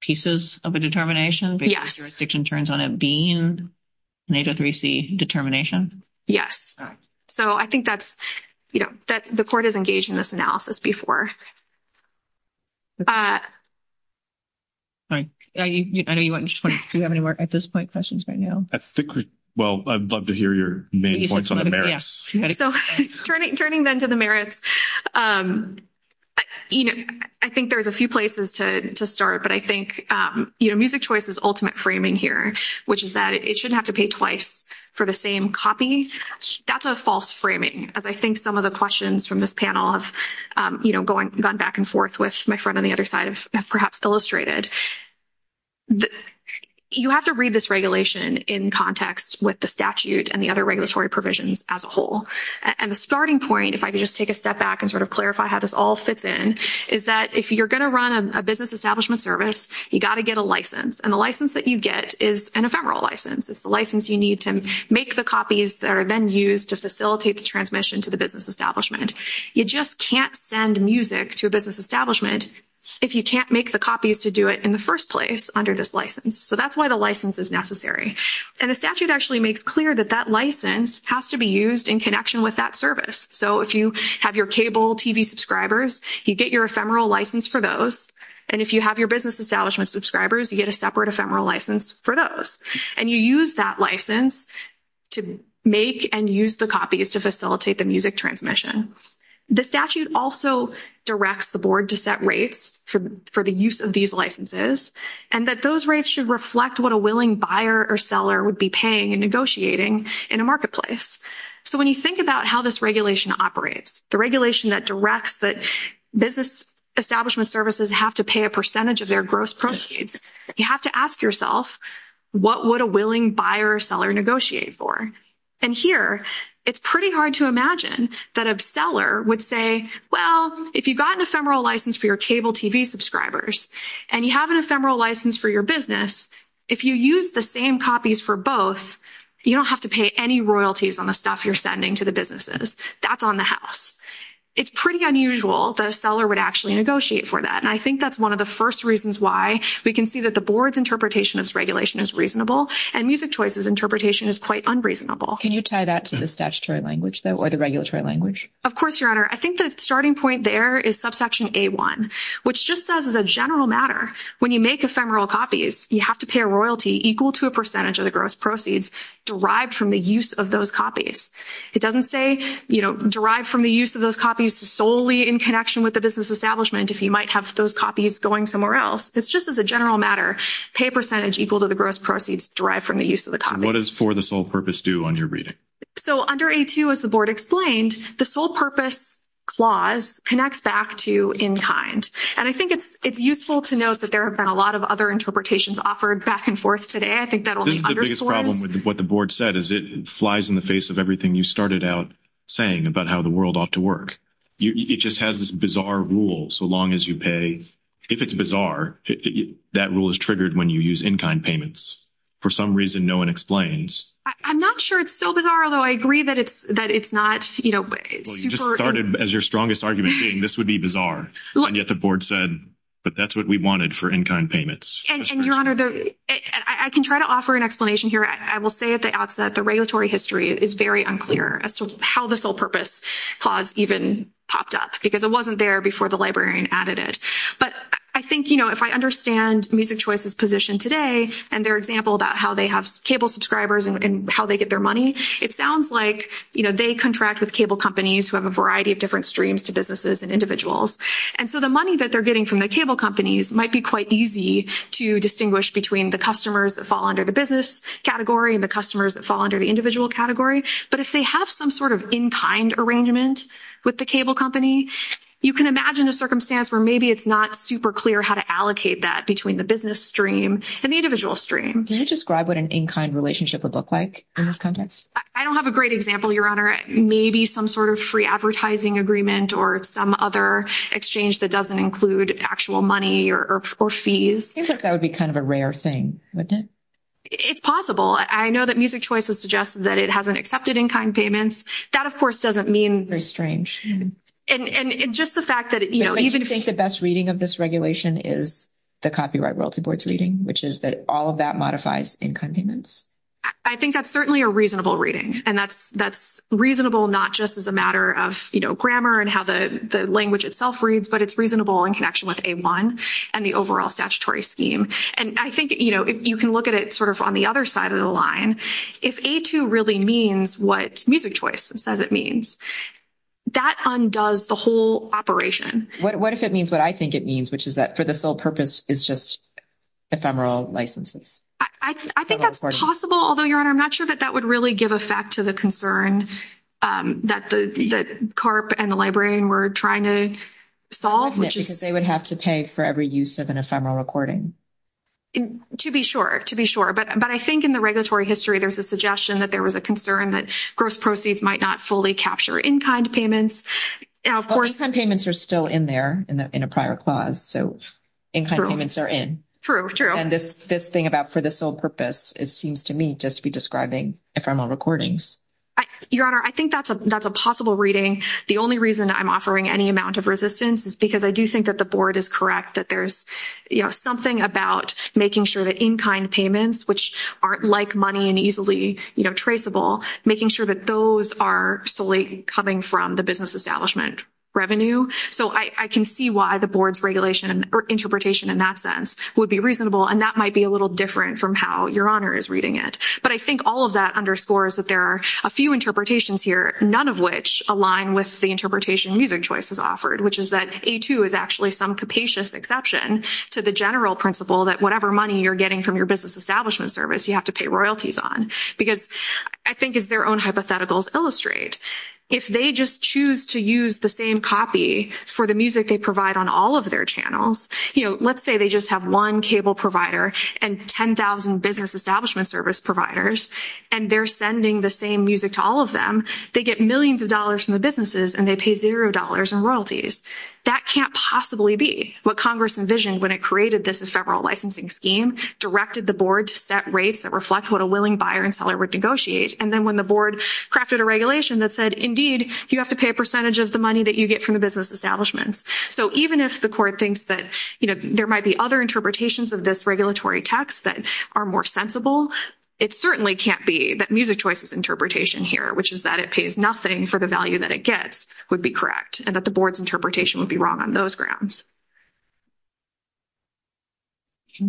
pieces of a determination. Because the jurisdiction turns on it being an H03C determination. Yes. So I think that's, you know, the court has engaged in this analysis before. Sorry, I know you weren't sure if you have any more at this point questions right now. I think we... Well, I'd love to hear your main points on the merits. So turning then to the merits, you know, I think there's a few places to start. But I think, you know, Music Choice's ultimate framing here, which is that it shouldn't have to pay twice for the same copy. That's a false framing. As I think some of the questions from this panel have, you know, gone back and forth with my friend on the other side have perhaps illustrated. You have to read this regulation in context with the statute and the other regulatory provisions as a whole. And the starting point, if I could just take a step back and sort of clarify how this all fits in, is that if you're going to run a business establishment service, you got to get a license. And the license that you get is an ephemeral license. It's the license you need to make the copies that are then used to facilitate the transmission to the business establishment. You just can't send music to a business establishment if you can't make the copies to do it in the first place under this license. So that's why the license is necessary. And the statute actually makes clear that that license has to be used in connection with that service. So if you have your cable TV subscribers, you get your ephemeral license for those. And if you have your business establishment subscribers, you get a separate ephemeral license for those. And you use that license to make and use the copies to facilitate the music transmission. The statute also directs the board to set rates for the use of these licenses and that those rates should reflect what a willing buyer or seller would be paying and negotiating in a marketplace. So when you think about how this regulation operates, the regulation that directs that business establishment services have to pay a percentage of their gross proceeds, you have to ask yourself, what would a willing buyer or seller negotiate for? And here, it's pretty hard to imagine that a seller would say, well, if you got an ephemeral license for your cable TV subscribers and you have an ephemeral license for your business, if you use the same copies for both, you don't have to pay any royalties on the stuff you're sending to the businesses. That's on the house. It's pretty unusual that a seller would actually negotiate for that. And I think that's one of the first reasons why we can see that the board's interpretation of this regulation is reasonable, and Music Choice's interpretation is quite unreasonable. Can you tie that to the statutory language, though, or the regulatory language? Of course, Your Honor. I think the starting point there is subsection A-1, which just as a general matter, when you make ephemeral copies, you have to pay a royalty equal to a percentage of the gross proceeds derived from the use of those copies. It doesn't say, you know, derived from the use of those copies solely in connection with the business establishment if you might have those copies going somewhere else. It's just as a general matter, pay a percentage equal to the gross proceeds derived from the use of the copies. What does for the sole purpose do on your reading? So under A-2, as the board explained, the sole purpose clause connects back to in kind. And I think it's useful to note that there have been a lot of other interpretations offered back and forth today. I think that will be underscored. This is the biggest problem with what the board said, is it flies in the face of everything you started out saying about how the world ought to work. It just has this bizarre rule, so long as you pay, if it's bizarre, that rule is triggered when you use in kind payments. For some reason, no one explains. I'm not sure it's so bizarre, although I agree that it's not, you know, super... Well, you just started as your strongest argument saying this would be bizarre. And yet the board said that that's what we wanted for in kind payments. And your honor, I can try to offer an explanation here. I will say at the outset, the regulatory history is very unclear as to how the sole purpose clause even popped up, because it wasn't there before the librarian added it. But I think, you know, if I understand Music Choice's position today and their example about how they have cable subscribers and how they get their money, it sounds like, you know, they contract with cable companies who have a variety of different streams to individuals. And so the money that they're getting from the cable companies might be quite easy to distinguish between the customers that fall under the business category and the customers that fall under the individual category. But if they have some sort of in kind arrangement with the cable company, you can imagine a circumstance where maybe it's not super clear how to allocate that between the business stream and the individual stream. Can you describe what an in kind relationship would look like in this context? I don't have a great example, your honor. Maybe some sort of free advertising agreement or some other exchange that doesn't include actual money or fees. I think that would be kind of a rare thing, wouldn't it? It's possible. I know that Music Choice has suggested that it hasn't accepted in kind payments. That, of course, doesn't mean. Very strange. And just the fact that, you know, even if. Do you think the best reading of this regulation is the copyright royalty board's reading, which is that all of that modifies in kind payments? I think that's certainly a reasonable reading. And that's reasonable not just as a matter of, you know, grammar and how the language itself reads, but it's reasonable in connection with A-1 and the overall statutory scheme. And I think, you know, you can look at it sort of on the other side of the line. If A-2 really means what Music Choice says it means, that undoes the whole operation. What if it means what I think it means, which is that for the sole purpose is just ephemeral licenses? I think that's possible. Although, Your Honor, I'm not sure that that would really give effect to the concern that the CARP and the librarian were trying to solve, which is. They would have to pay for every use of an ephemeral recording. To be sure. To be sure. But I think in the regulatory history, there's a suggestion that there was a concern that gross proceeds might not fully capture in kind payments. Now, of course. In kind payments are still in there in a prior clause. So in kind payments are in. True, true. This thing about for the sole purpose, it seems to me just to be describing ephemeral recordings. Your Honor, I think that's a possible reading. The only reason I'm offering any amount of resistance is because I do think that the board is correct that there's, you know, something about making sure that in kind payments, which aren't like money and easily traceable, making sure that those are solely coming from the business establishment revenue. So I can see why the board's regulation or interpretation in that sense would be reasonable and that might be a little different from how Your Honor is reading it. But I think all of that underscores that there are a few interpretations here, none of which align with the interpretation music choices offered, which is that A2 is actually some capacious exception to the general principle that whatever money you're getting from your business establishment service, you have to pay royalties on. Because I think if their own hypotheticals illustrate, if they just choose to use the same copy for the music they provide on all of their channels, you know, let's say they just have one cable provider and 10,000 business establishment service providers and they're sending the same music to all of them, they get millions of dollars from the businesses and they pay zero dollars in royalties. That can't possibly be what Congress envisioned when it created this as several licensing scheme, directed the board to set rates that reflect what a willing buyer and seller would negotiate, and then when the board crafted a regulation that said, indeed, you have to pay a percentage of the money that you get from the business establishment. So even if the court thinks that, you know, there might be other interpretations of this regulatory text that are more sensible, it certainly can't be that music choice's interpretation here, which is that it pays nothing for the value that it gets, would be correct and that the board's interpretation would be wrong on those grounds. All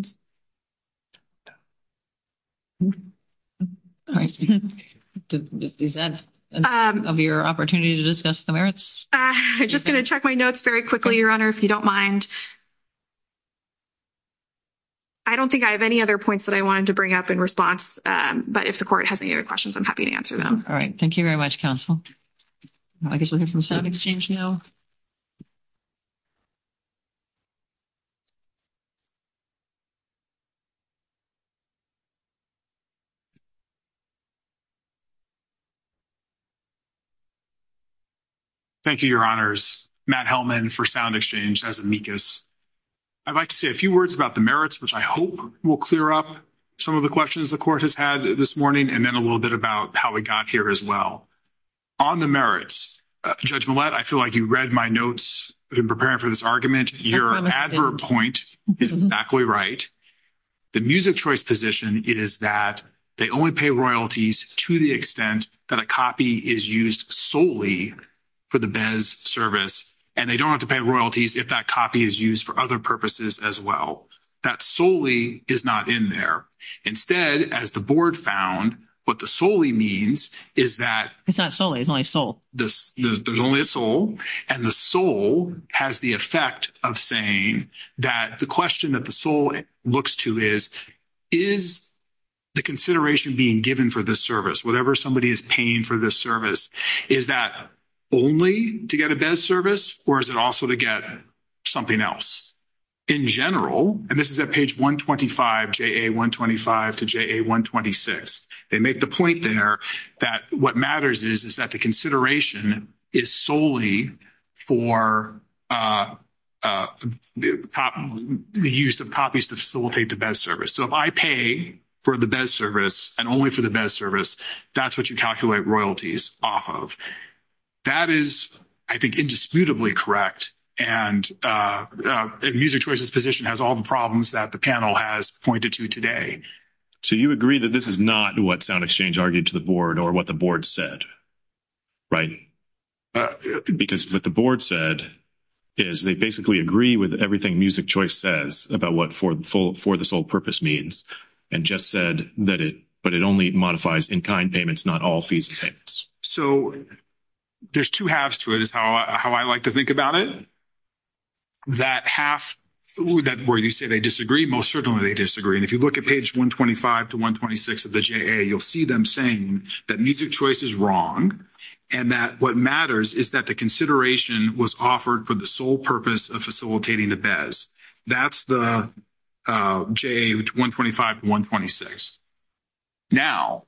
right, is that of your opportunity to discuss the merits? I'm just going to check my notes very quickly, Your Honor, if you don't mind. I don't think I have any other points that I wanted to bring up in response, but if the court has any other questions, I'm happy to answer them. All right. Thank you very much, counsel. I guess we'll hear from sound exchange now. Thank you, Your Honors. Matt Hellman for sound exchange as amicus. I'd like to say a few words about the merits, which I hope will clear up some of the questions the court has had this morning, and then a little bit about how we got here as well. On the merits, Judge Millett, I feel like you read my notes in preparing for this argument. Your advert point is exactly right. The music choice position is that they only pay royalties to the extent that a copy is used solely for the BEZ service, and they don't have to pay royalties if that copy is used for other purposes as well. That solely is not in there. Instead, as the board found, what the solely means is that— It's not solely. It's only a sole. There's only a sole, and the sole has the effect of saying that the question that the sole looks to is, is the consideration being given for this service, whatever somebody is paying for this service, is that only to get a BEZ service, or is it also to get something else? In general, and this is at page 125, JA 125 to JA 126, they make the point there that what matters is that the consideration is solely for the use of copies to facilitate the BEZ service. So if I pay for the BEZ service and only for the BEZ service, that's what you calculate royalties off of. That is, I think, indisputably correct, and Music Choice's position has all the problems that the panel has pointed to today. So you agree that this is not what SoundExchange argued to the board or what the board said, right? Because what the board said is they basically agree with everything Music Choice says about what for the sole purpose means, and just said that it—but it only modifies in-kind payments, not all fees and payments. So there's two halves to it, is how I like to think about it. That half where you say they disagree, most certainly they disagree. And if you look at page 125 to 126 of the JA, you'll see them saying that Music Choice is wrong and that what matters is that the consideration was offered for the sole purpose of facilitating the BEZ. That's the JA 125 to 126. Now,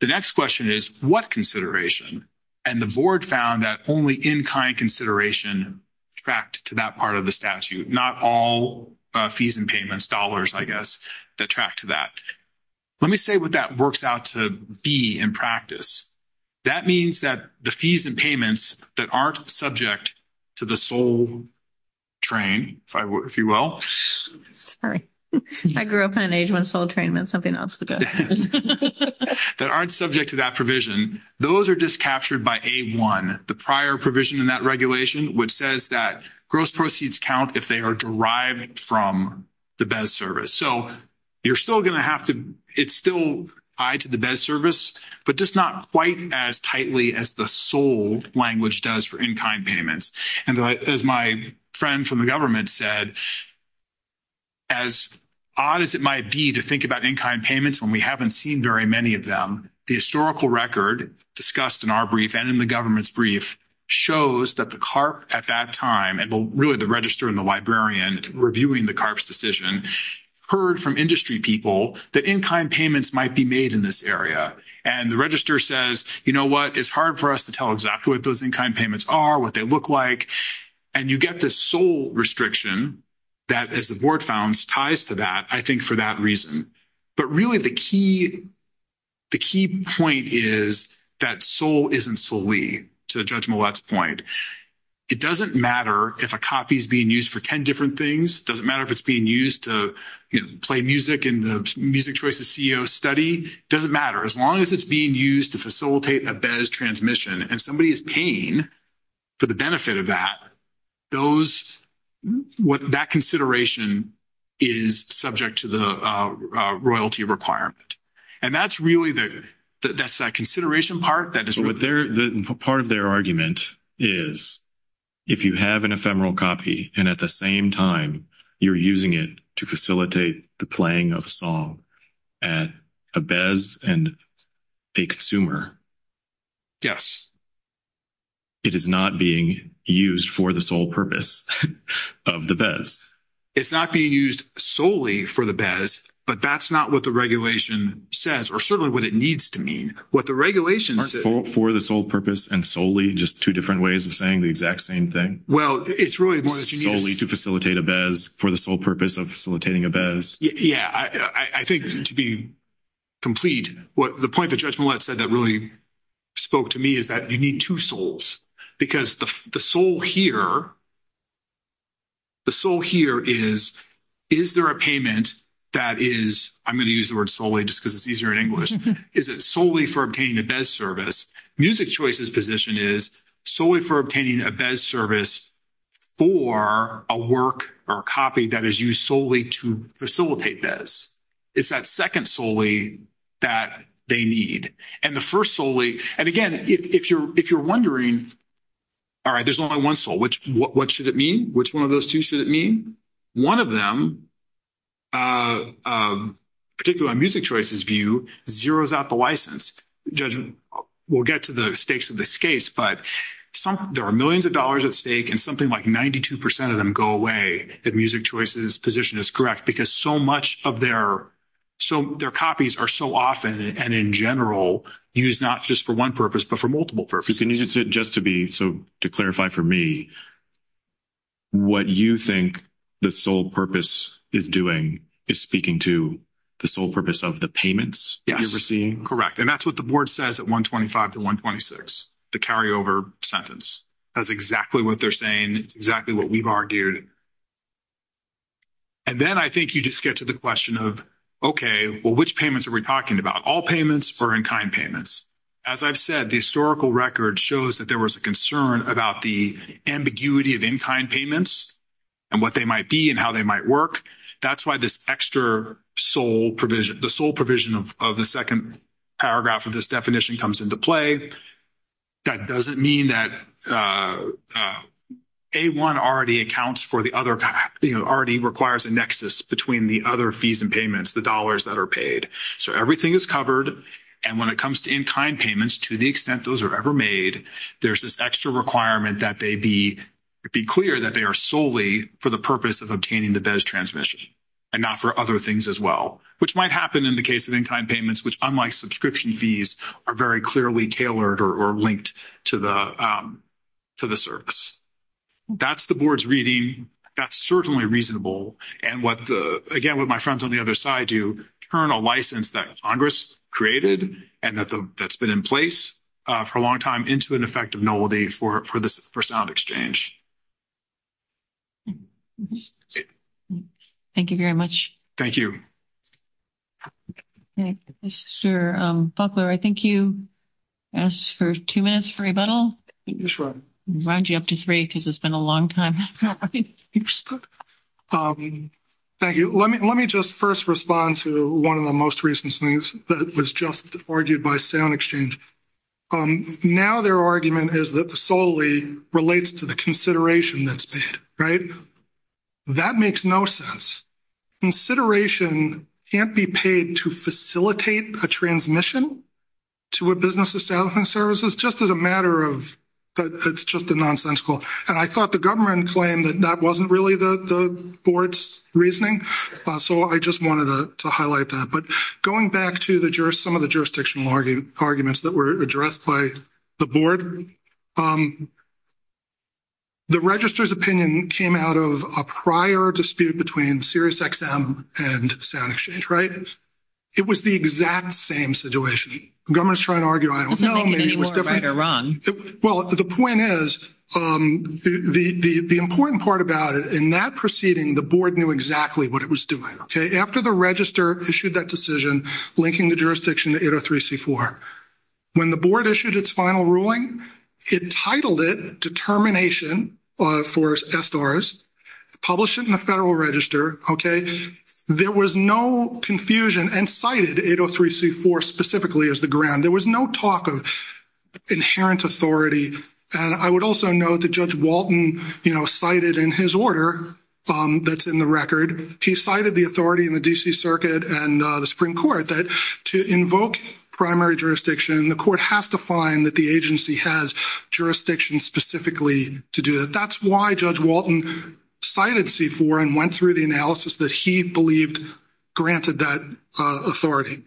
the next question is, what consideration? And the board found that only in-kind consideration tracked to that part of the statute, not all fees and payments, dollars, I guess, that track to that. Let me say what that works out to be in practice. That means that the fees and payments that aren't subject to the sole train, if you will. Sorry, I grew up in an age when sole train meant something else. That aren't subject to that provision, those are just captured by A1, the prior provision in that regulation, which says that gross proceeds count if they are derived from the BEZ service. So you're still going to have to—it's still tied to the BEZ service, but just not quite as tightly as the sole language does for in-kind payments. And as my friend from the government said, as odd as it might be to think about in-kind payments when we haven't seen very many of them, the historical record discussed in our brief and in the government's brief shows that the CARP at that time, and really the registrar and the librarian reviewing the CARP's decision, heard from industry people that in-kind payments might be made in this area. And the registrar says, you know what, it's hard for us to tell exactly what those in-kind payments look like. And you get this sole restriction that, as the board founds, ties to that, I think for that reason. But really the key point is that sole isn't solely, to Judge Millett's point. It doesn't matter if a copy is being used for 10 different things, it doesn't matter if it's being used to play music in the Music Choices CEO study, it doesn't matter. As long as it's being used to facilitate a BEZ transmission and somebody is paying for the benefit of that, that consideration is subject to the royalty requirement. And that's really, that's that consideration part. Part of their argument is, if you have an ephemeral copy and at the same time you're using it to facilitate the playing of a song at a BEZ and a consumer. Yes. It is not being used for the sole purpose of the BEZ. It's not being used solely for the BEZ, but that's not what the regulation says, or certainly what it needs to mean. What the regulation says... For the sole purpose and solely, just two different ways of saying the exact same thing. Well, it's really one that you need... Solely to facilitate a BEZ, for the sole purpose of facilitating a BEZ. Yes, I think to be complete, the point that Judge Millett said that really spoke to me is that you need two soles. Because the sole here, the sole here is, is there a payment that is... I'm going to use the word solely just because it's easier in English. Is it solely for obtaining a BEZ service? Music Choice's position is solely for obtaining a BEZ service for a work or a copy that is used solely to facilitate BEZ. It's that second solely that they need. And the first solely... And again, if you're wondering, all right, there's only one sole, what should it mean? Which one of those two should it mean? One of them, particularly on Music Choice's view, zeroes out the license. Judge, we'll get to the stakes of this case, but there are millions of dollars at stake and something like 92% of them go away if Music Choice's position is correct because much of their copies are so often, and in general, used not just for one purpose, but for multiple purposes. And just to clarify for me, what you think the sole purpose is doing is speaking to the sole purpose of the payments that you're receiving? Correct. And that's what the board says at 125 to 126, the carryover sentence. That's exactly what they're saying, exactly what we've argued. And then I think you just get to the question of, okay, well, which payments are we talking about? All payments or in-kind payments? As I've said, the historical record shows that there was a concern about the ambiguity of in-kind payments and what they might be and how they might work. That's why this extra sole provision, the sole provision of the second paragraph of this definition comes into play. That doesn't mean that A1 already requires a nexus between the other fees and payments, the dollars that are paid. So everything is covered. And when it comes to in-kind payments, to the extent those are ever made, there's this extra requirement that they be clear that they are solely for the purpose of obtaining the BEZ transmission and not for other things as well, which might happen in the case of in-kind payments, which, unlike subscription fees, are very clearly tailored or linked to the service. That's the board's reading. That's certainly reasonable. And what the, again, what my friends on the other side do, turn a license that Congress created and that's been in place for a long time into an effective nobility for sound exchange. Thank you very much. Thank you. Thank you, Mr. Buckler. I think you asked for two minutes for a rebuttal. I'll round you up to three because it's been a long time. Thank you. Let me just first respond to one of the most recent things that was just argued by sound exchange. Now their argument is that the solely relates to the consideration that's paid, right? That makes no sense. Consideration can't be paid to facilitate a transmission to a business establishment service. It's just as a matter of, it's just a nonsensical. And I thought the government claimed that that wasn't really the board's reasoning. So I just wanted to highlight that. But going back to some of the jurisdictional arguments that were addressed by the board, the register's opinion came out of a prior dispute between SiriusXM and sound exchange, right? It was the exact same situation. The government is trying to argue, I don't know, maybe it was different. Well, the point is, the important part about it, in that proceeding, the board knew exactly what it was doing, okay? After the register issued that decision linking the jurisdiction to 803C4, when the board issued its final ruling, it titled it Determination for Estoras, published it in the federal register, okay? There was no confusion and cited 803C4 specifically as the ground. There was no talk of insurance authority. And I would also note that Judge Walton cited in his order that's in the record, he cited the authority in the DC Circuit and the Supreme Court that to invoke primary jurisdiction, the court has to find that the agency has jurisdiction specifically to do that. That's why Judge Walton cited C4 and went through the analysis that he believed granted that authority.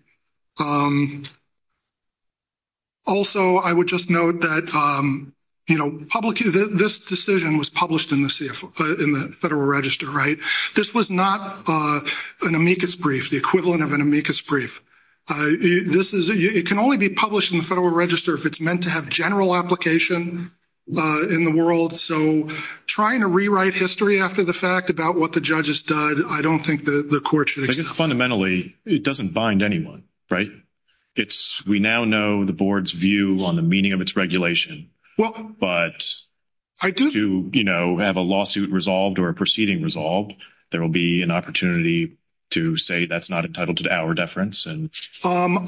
Also, I would just note that, you know, this decision was published in the federal register, right? This was not an amicus brief, the equivalent of an amicus brief. This is—it can only be published in the federal register if it's meant to have general application in the world. So trying to rewrite history after the fact about what the judges did, I don't think the court should— Fundamentally, it doesn't bind anyone, right? We now know the board's view on the meaning of its regulation, but to, you know, have a lawsuit resolved or a proceeding resolved, there will be an opportunity to say that's not entitled to the hour deference. And— Um,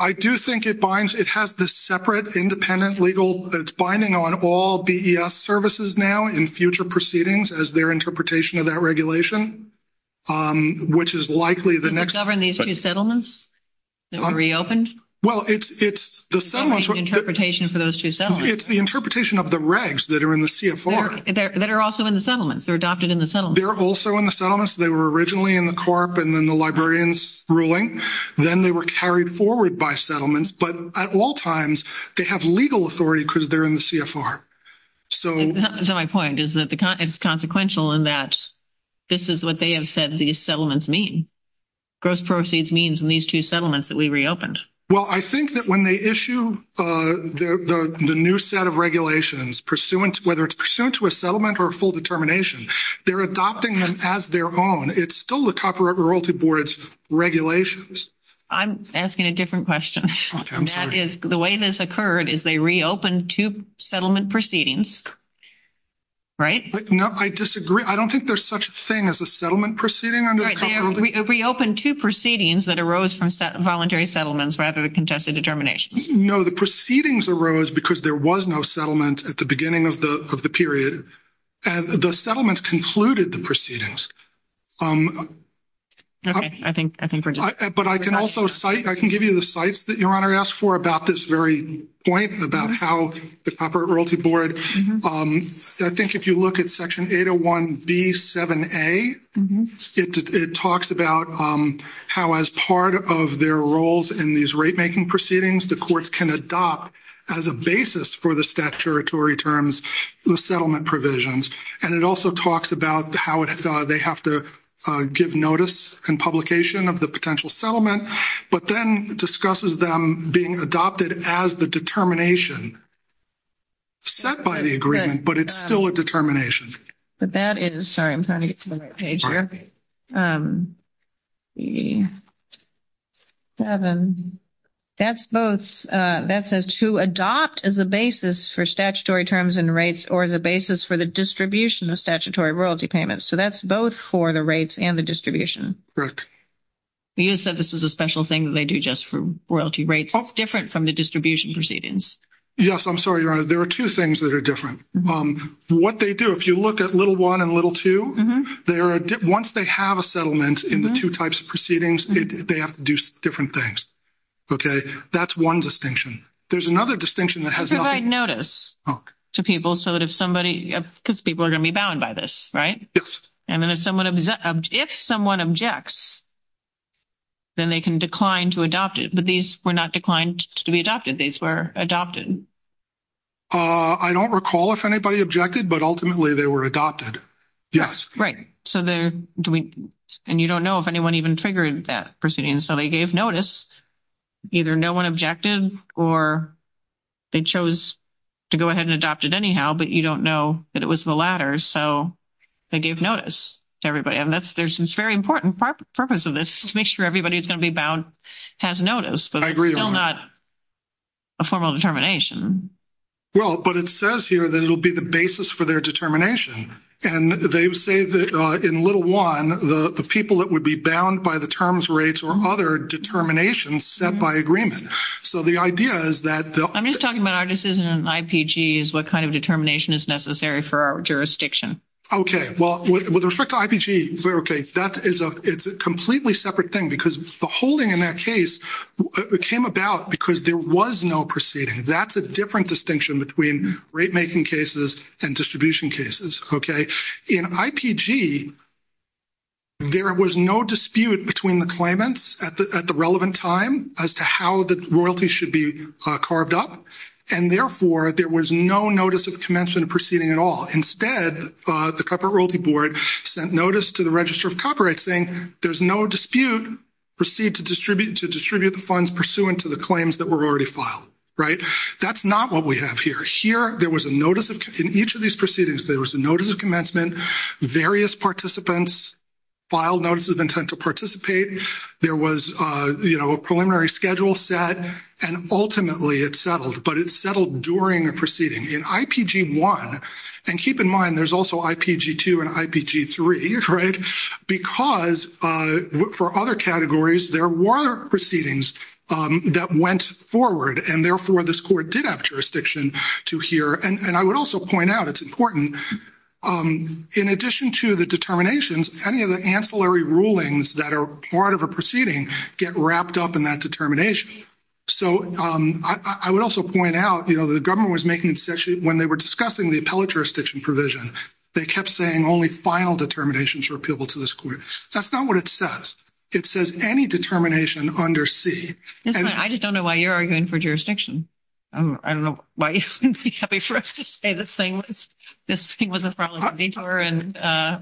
I do think it binds—it has the separate independent legal—it's binding on all BES services now in future proceedings as their interpretation of that regulation, which is likely the next— To govern these two settlements that were reopened? Well, it's the settlements— Interpretation for those two settlements. It's the interpretation of the regs that are in the CFR. That are also in the settlements. They're adopted in the settlements. They're also in the settlements. They were originally in the corp and then the librarians' ruling. Then they were carried forward by settlements. But at all times, they have legal authority because they're in the CFR. So— That's my point, is that it's consequential in that this is what they have said these settlements mean. Gross proceeds means in these two settlements that we reopened. Well, I think that when they issue the new set of regulations, pursuant—whether it's pursuant to a settlement or a full determination, they're adopting them as their own. It's still the Copyright Royalty Board's regulations. I'm asking a different question. I'm sorry. That is, the way this occurred is they reopened two settlement proceedings, right? No, I disagree. I don't think there's such a thing as a settlement proceeding under the— Right, they reopened two proceedings that arose from voluntary settlements rather than contested determinations. No, the proceedings arose because there was no settlement at the beginning of the period. The settlements concluded the proceedings. Okay, I think we're— But I can also cite—I can give you the cites that Your Honor asked for about this very point about how the Copyright Royalty Board—I think if you look at Section 801B7A, it talks about how as part of their roles in these rate-making proceedings, the courts can adopt as a basis for the statutory terms the settlement provisions. And it also talks about how they have to give notice and publication of the potential settlement, but then discusses them being adopted as the determination set by the agreement, but it's still a determination. But that is—sorry, I'm trying to get to the right page here. That's both—that says to adopt as a basis for statutory terms and rates or as a basis for the distribution of statutory royalty payments. So that's both for the rates and the distribution. Correct. You said this is a special thing that they do just for royalty rates. That's different from the distribution proceedings. Yes, I'm sorry, Your Honor. There are two things that are different. What they do, if you look at little one and little two, once they have a settlement in the two types of proceedings, they have to do different things. Okay? That's one distinction. There's another distinction that has nothing— Provide notice to people so that if somebody—because people are going to be bound by this, right? Yes. And then if someone objects, then they can decline to adopt it. But these were not declined to be adopted. These were adopted. I don't recall if anybody objected, but ultimately they were adopted. Right. So they—and you don't know if anyone even triggered that proceeding. So they gave notice. Either no one objected or they chose to go ahead and adopt it anyhow, but you don't know that it was the latter. So they gave notice to everybody. And that's—there's this very important purpose of this, to make sure everybody who's going to be bound has notice. I agree, Your Honor. But it's still not a formal determination. Well, but it says here that it'll be the basis for their determination. And they say that in little one, the people that would be bound by the terms, rates, or other determinations set by agreement. So the idea is that— I'm just talking about our decision in IPGs, what kind of determination is necessary for our jurisdiction. Okay. Well, with respect to IPG, okay, that is a—it's a completely separate thing, because the holding in that case came about because there was no proceeding. That's a different distinction between rate-making cases and distribution cases. Okay. In IPG, there was no dispute between the claimants at the relevant time as to how the royalty should be carved up. And therefore, there was no notice of commensurate proceeding at all. Instead, the Corporate Royalty Board sent notice to the Register of Copyrights saying there's no dispute to distribute the funds pursuant to the claims that were already filed. Right? That's not what we have here. Here, there was a notice of—in each of these proceedings, there was a notice of commencement. Various participants filed notice of intent to participate. There was, you know, a preliminary schedule set. And ultimately, it settled. But it settled during a proceeding. In IPG-1—and keep in mind, there's also IPG-2 and IPG-3, right? Because for other categories, there were proceedings that went forward. And therefore, this court did have jurisdiction to hear. And I would also point out—it's important—in addition to the determinations, any of the ancillary rulings that are part of a proceeding get wrapped up in that determination. So I would also point out, you know, the government was making— when they were discussing the appellate jurisdiction provision, they kept saying only final determinations were appealable to this court. That's not what it says. It says any determination under C. I just don't know why you're arguing for jurisdiction. I don't know why you think I would say this thing was a problem before, and,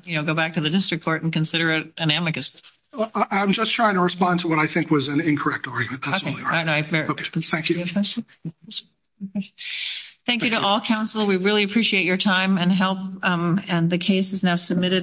you know, go back to the district court and consider it an amicus. Well, I'm just trying to respond to what I think was an incorrect argument. That's all I have. Thank you. Thank you to all, counsel. We really appreciate your time and help. And the case is now submitted.